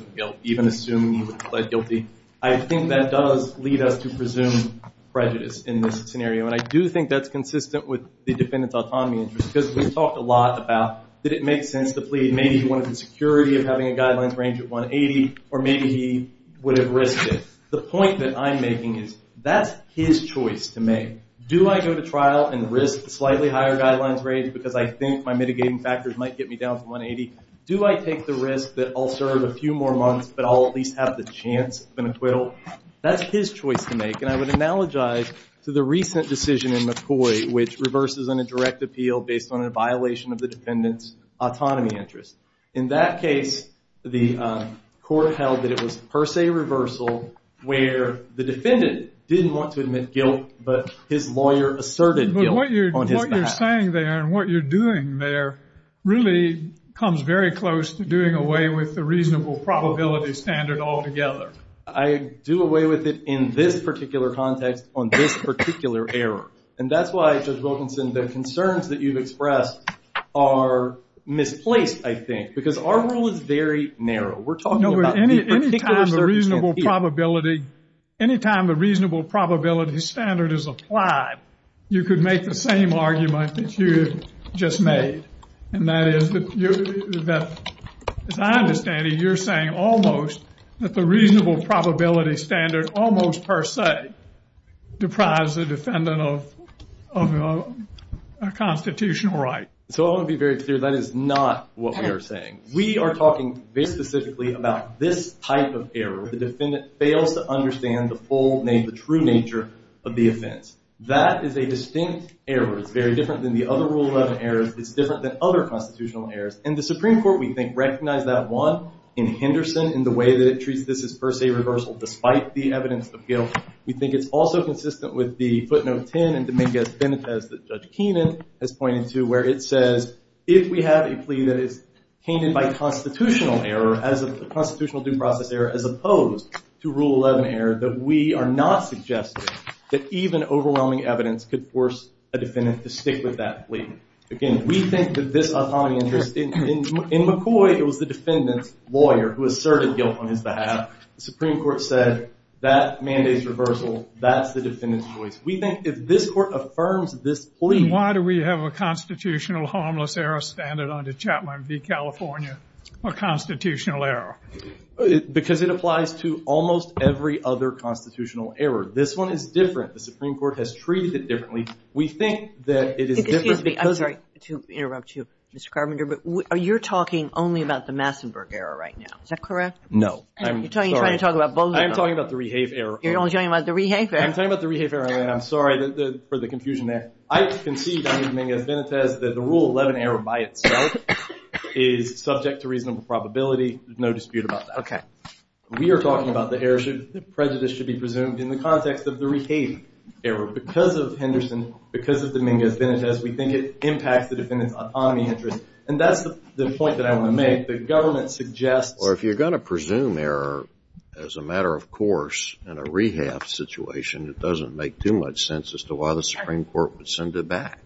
of guilt, even assuming he would have pled guilty, I think that does lead us to presume prejudice in this scenario. And I do think that's consistent with the defendant's autonomy interest, because we talked a lot about, did it make sense to plead? Maybe he wanted the security of having a guideline range of 180, or maybe he would have risked it. The point that I'm making is, that's his choice to make. Do I go to trial and risk slightly higher guidelines rates because I think my mitigating factors might get me down to 180? Do I take the risk that I'll serve a few more months, but I'll at least have the chance of an acquittal? That's his choice to make. And I would analogize to the recent decision in McCoy, which reverses on a direct appeal based on a violation of the defendant's autonomy interest. In that case, the court held that it was per se reversal, where the defendant didn't want to admit guilt, but his lawyer asserted guilt. But what you're saying there, and what you're doing there, really comes very close to doing away with the reasonable probability standard altogether. I do away with it in this particular context on this particular error. And that's why, Judge Wilkinson, the concerns that you've expressed are misplaced, I think, because our rule is very narrow. We're talking about these particular probability. Anytime the reasonable probability standard is applied, you could make the same argument that you just made. And that is that, as I understand it, you're saying almost that the reasonable probability standard almost per se deprives the defendant of a constitutional right. So I want to be very clear, that is not what we are talking very specifically about this type of error, where the defendant fails to understand the full name, the true nature of the offense. That is a distinct error. It's very different than the other rule 11 errors. It's different than other constitutional errors. And the Supreme Court, we think, recognized that one in Henderson, in the way that it treats this as per se reversal, despite the evidence of appeal. We think it's also consistent with the footnote 10 in Dominguez as Judge Keenan has pointed to, where it says, if we have a plea that is tainted by constitutional error, as a constitutional due process error, as opposed to rule 11 error, that we are not suggesting that even overwhelming evidence could force a defendant to stick with that plea. Again, we think that this is of high interest. In McCoy, it was the defendant's lawyer who asserted guilt on his behalf. The Supreme Court said, that mandates reversal. That's the defendant's choice. We think, if this court affirms this plea... Why do we have a constitutional harmless error standard under Chapman v. California for constitutional error? Because it applies to almost every other constitutional error. This one is different. The Supreme Court has treated it differently. We think that it is different because... Excuse me. I'm sorry to interrupt you, Mr. Carpenter, but are you talking only about the Massenburg error right now? Is that correct? No. I'm sorry. You're trying to talk about both of them. I'm talking about the Rehave error. You're only talking about the Rehave error? I'm talking about the Rehave error, and I'm sorry for the confusion there. I concede under Dominguez-Benitez that the Rule 11 error by itself is subject to reasonable probability. There's no dispute about that. Okay. We are talking about the error should... the prejudice should be presumed in the context of the Rehave error. Because of Henderson, because of Dominguez-Benitez, we think it impacts the defendant's autonomy interest. And that's the point that I want to make. The government suggests... Or if you're going to presume error as a matter of course in a Rehave situation, it doesn't make too much sense as to why the Supreme Court would send it back.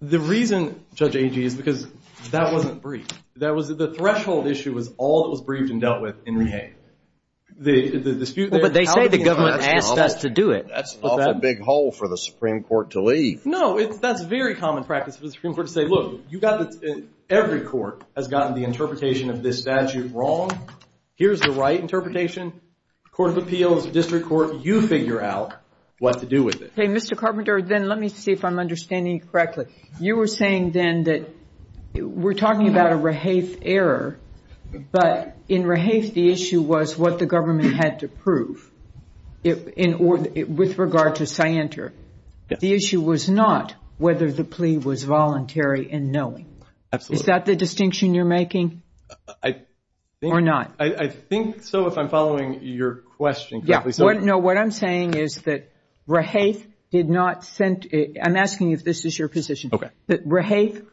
The reason, Judge Agee, is because that wasn't briefed. That was... the threshold issue was all that was briefed and dealt with in Rehave. The dispute... But they say the government asked that to do it. That's not a big hole for the Supreme Court to leave. No. That's very common practice for the Supreme Court to say, look, you've got this... Every court has gotten the interpretation of this statute wrong. Here's the right interpretation. Court of Appeals, District Court, you figure out what to do with it. Okay. Mr. Carpenter, then let me see if I'm understanding you correctly. You were saying then that we're talking about a Rehave error, but in Rehave the issue was what the government had to prove with regard to Scienter. The issue was not whether the plea was voluntary in knowing. Is that the distinction you're making or not? I think so if I'm following your question. No, what I'm saying is that Rehave did not send... I'm asking if this is your position. Rehave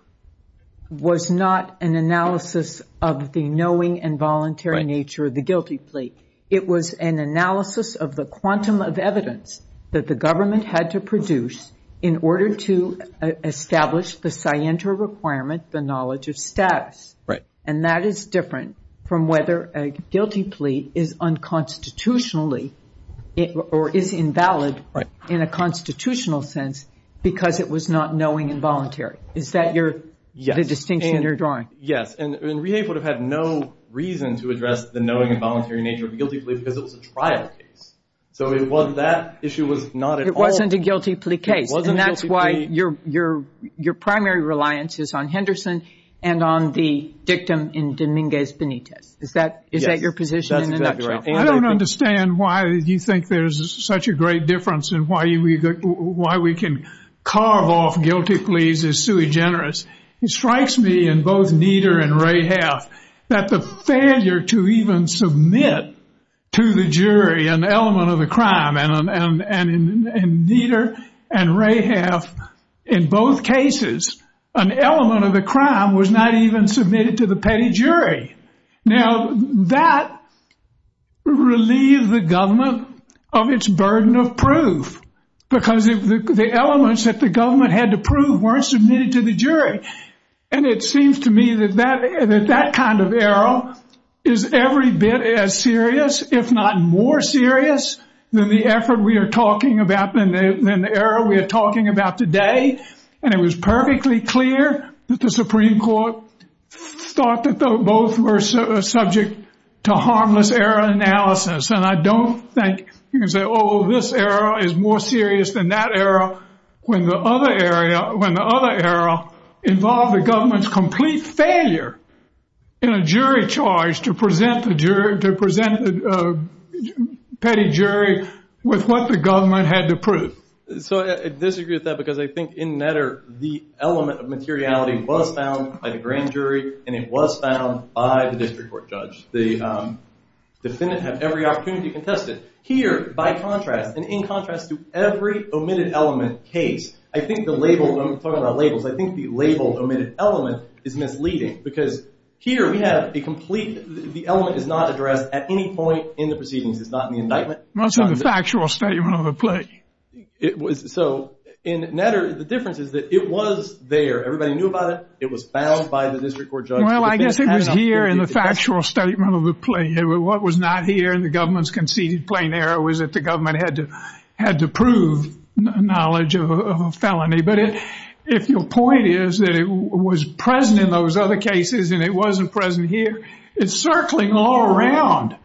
was not an analysis of the knowing and voluntary nature of the guilty plea. It was an analysis of the quantum of evidence that the government had to produce in order to establish the Scienter requirement, the knowledge of status. Right. And that is different from whether a guilty plea is unconstitutionally or is invalid in a constitutional sense because it was not knowing and voluntary. Is that the distinction you're drawing? Yes. And Rehave would have had no reason to address the knowing and voluntary nature of the guilty plea because it was a trial case. So it was that issue was not at all... It wasn't a guilty plea case. And that's why your primary reliance is on Henderson and on the dictum in Dominguez Benitez. Is that your position? I don't understand why you think there's such a great difference in why we can carve off guilty pleas as sui generis. It strikes me in both Nieder and Rehave that the failure to have, in both cases, an element of the crime was not even submitted to the paid jury. Now, that relieved the government of its burden of proof because the elements that the government had to prove weren't submitted to the jury. And it seems to me that that kind of error is every bit as serious, if not more serious, than the effort we are talking about and the error we are talking about today. And it was perfectly clear that the Supreme Court thought that both were subject to harmless error analysis. And I don't think you can say, oh, this error is more serious than that error when the other error involved the government's complete failure in a jury charge to present the jury, to present the petty jury with what the government had to prove. So, I disagree with that because I think, in Nieder, the element of materiality was found by the grand jury and it was found by the district court judge. The Senate had every opportunity to contest it. Here, by contrast, and in contrast to every omitted element case, I think the label, when we talk about labels, I think the label omitted element is misleading because here we have a complete, the element is not addressed at any point in proceedings. It's not in the indictment. It's in the factual statement of the plea. It was, so, in Nieder, the difference is that it was there. Everybody knew about it. It was found by the district court judge. Well, I guess it was here in the factual statement of the plea. What was not here in the government's conceded plain error was that the government had to prove knowledge of a felony. But if your point is that it was present in those other cases and it was not in the indictment,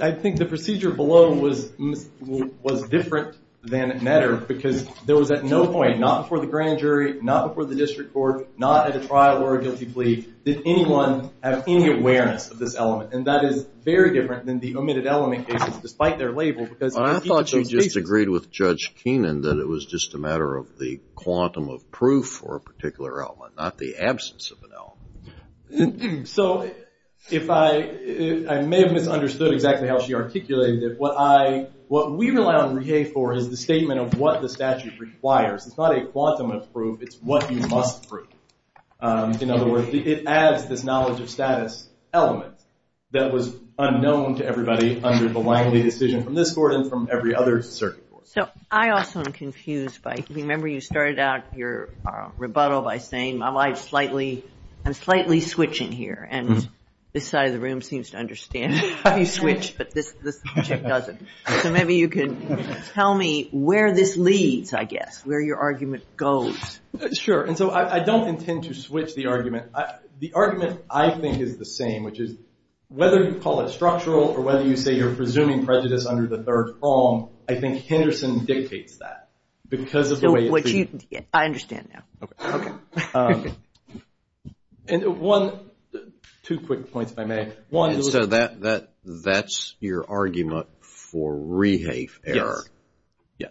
I think the procedure below was different than in Nieder because there was at no point, not before the grand jury, not before the district court, not at a trial or a guilty plea, did anyone have any awareness of this element. And that is very different than the omitted element case, despite their label. I thought you just agreed with Judge Keenan that it was just a matter of the quantum of proof for a particular element, not the absence of an element. And so, if I, I may have misunderstood exactly how she articulated it. What I, what we rely on Riege for is the statement of what the statute requires. It's not a quantum of proof. It's what you must prove. In other words, it adds this knowledge of status element that was unknown to everybody under the Langley decision from this court and from every other circuit court. So, I also am confused by, remember you started out your rebuttal by saying my mind is slightly, I'm slightly switching here and this side of the room seems to understand how you switch, but this doesn't. So, maybe you can tell me where this leads, I guess, where your argument goes. Sure. And so, I don't intend to switch the argument. The argument, I think, is the same, which is whether you call it structural or whether you say you're presuming prejudice under the third form, I think Henderson dictates that because of the way it's I understand that. Okay. And one, two quick points if I may. So, that, that, that's your argument for Riege error. Yeah.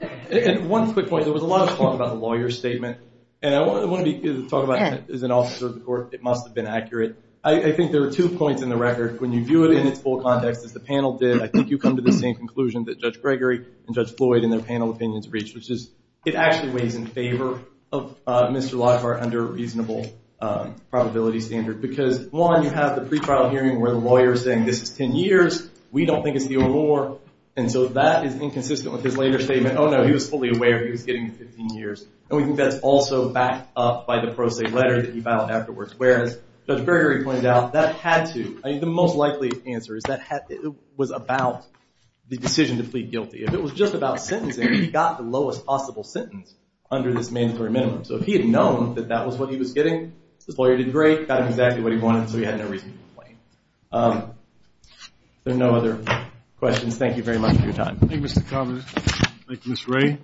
And one quick point, there was a lot of talk about the lawyer statement and I want to talk about, as an officer of the court, it must have been accurate. I think there were two points in the record. When you view it in its full context, as the panel did, I think you come to the same conclusion that Judge Gregory and Judge Floyd in their panel opinions reached, which is, it actually weighs in favor of Mr. Lockhart under a reasonable probability standard. Because one, you have the pre-trial hearing where the lawyer is saying, this is 10 years, we don't think it's the Aurora, and so that is inconsistent with his later statement, oh no, he was fully aware he was getting 15 years. And we think that's also backed up by the pro se letter that you filed afterwards. Whereas, Judge Gregory pointed out, that had to, the most likely answer is that it was about the decision to plead guilty. If it was just about he got the lowest possible sentence under this main story minimum. So if he had known that that was what he was getting, the lawyer did great, got him exactly what he wanted, so he had no reason to complain. If there are no other questions, thank you very much for your time. Thank you, Mr. Thomas. Thank you, Ms. Ray.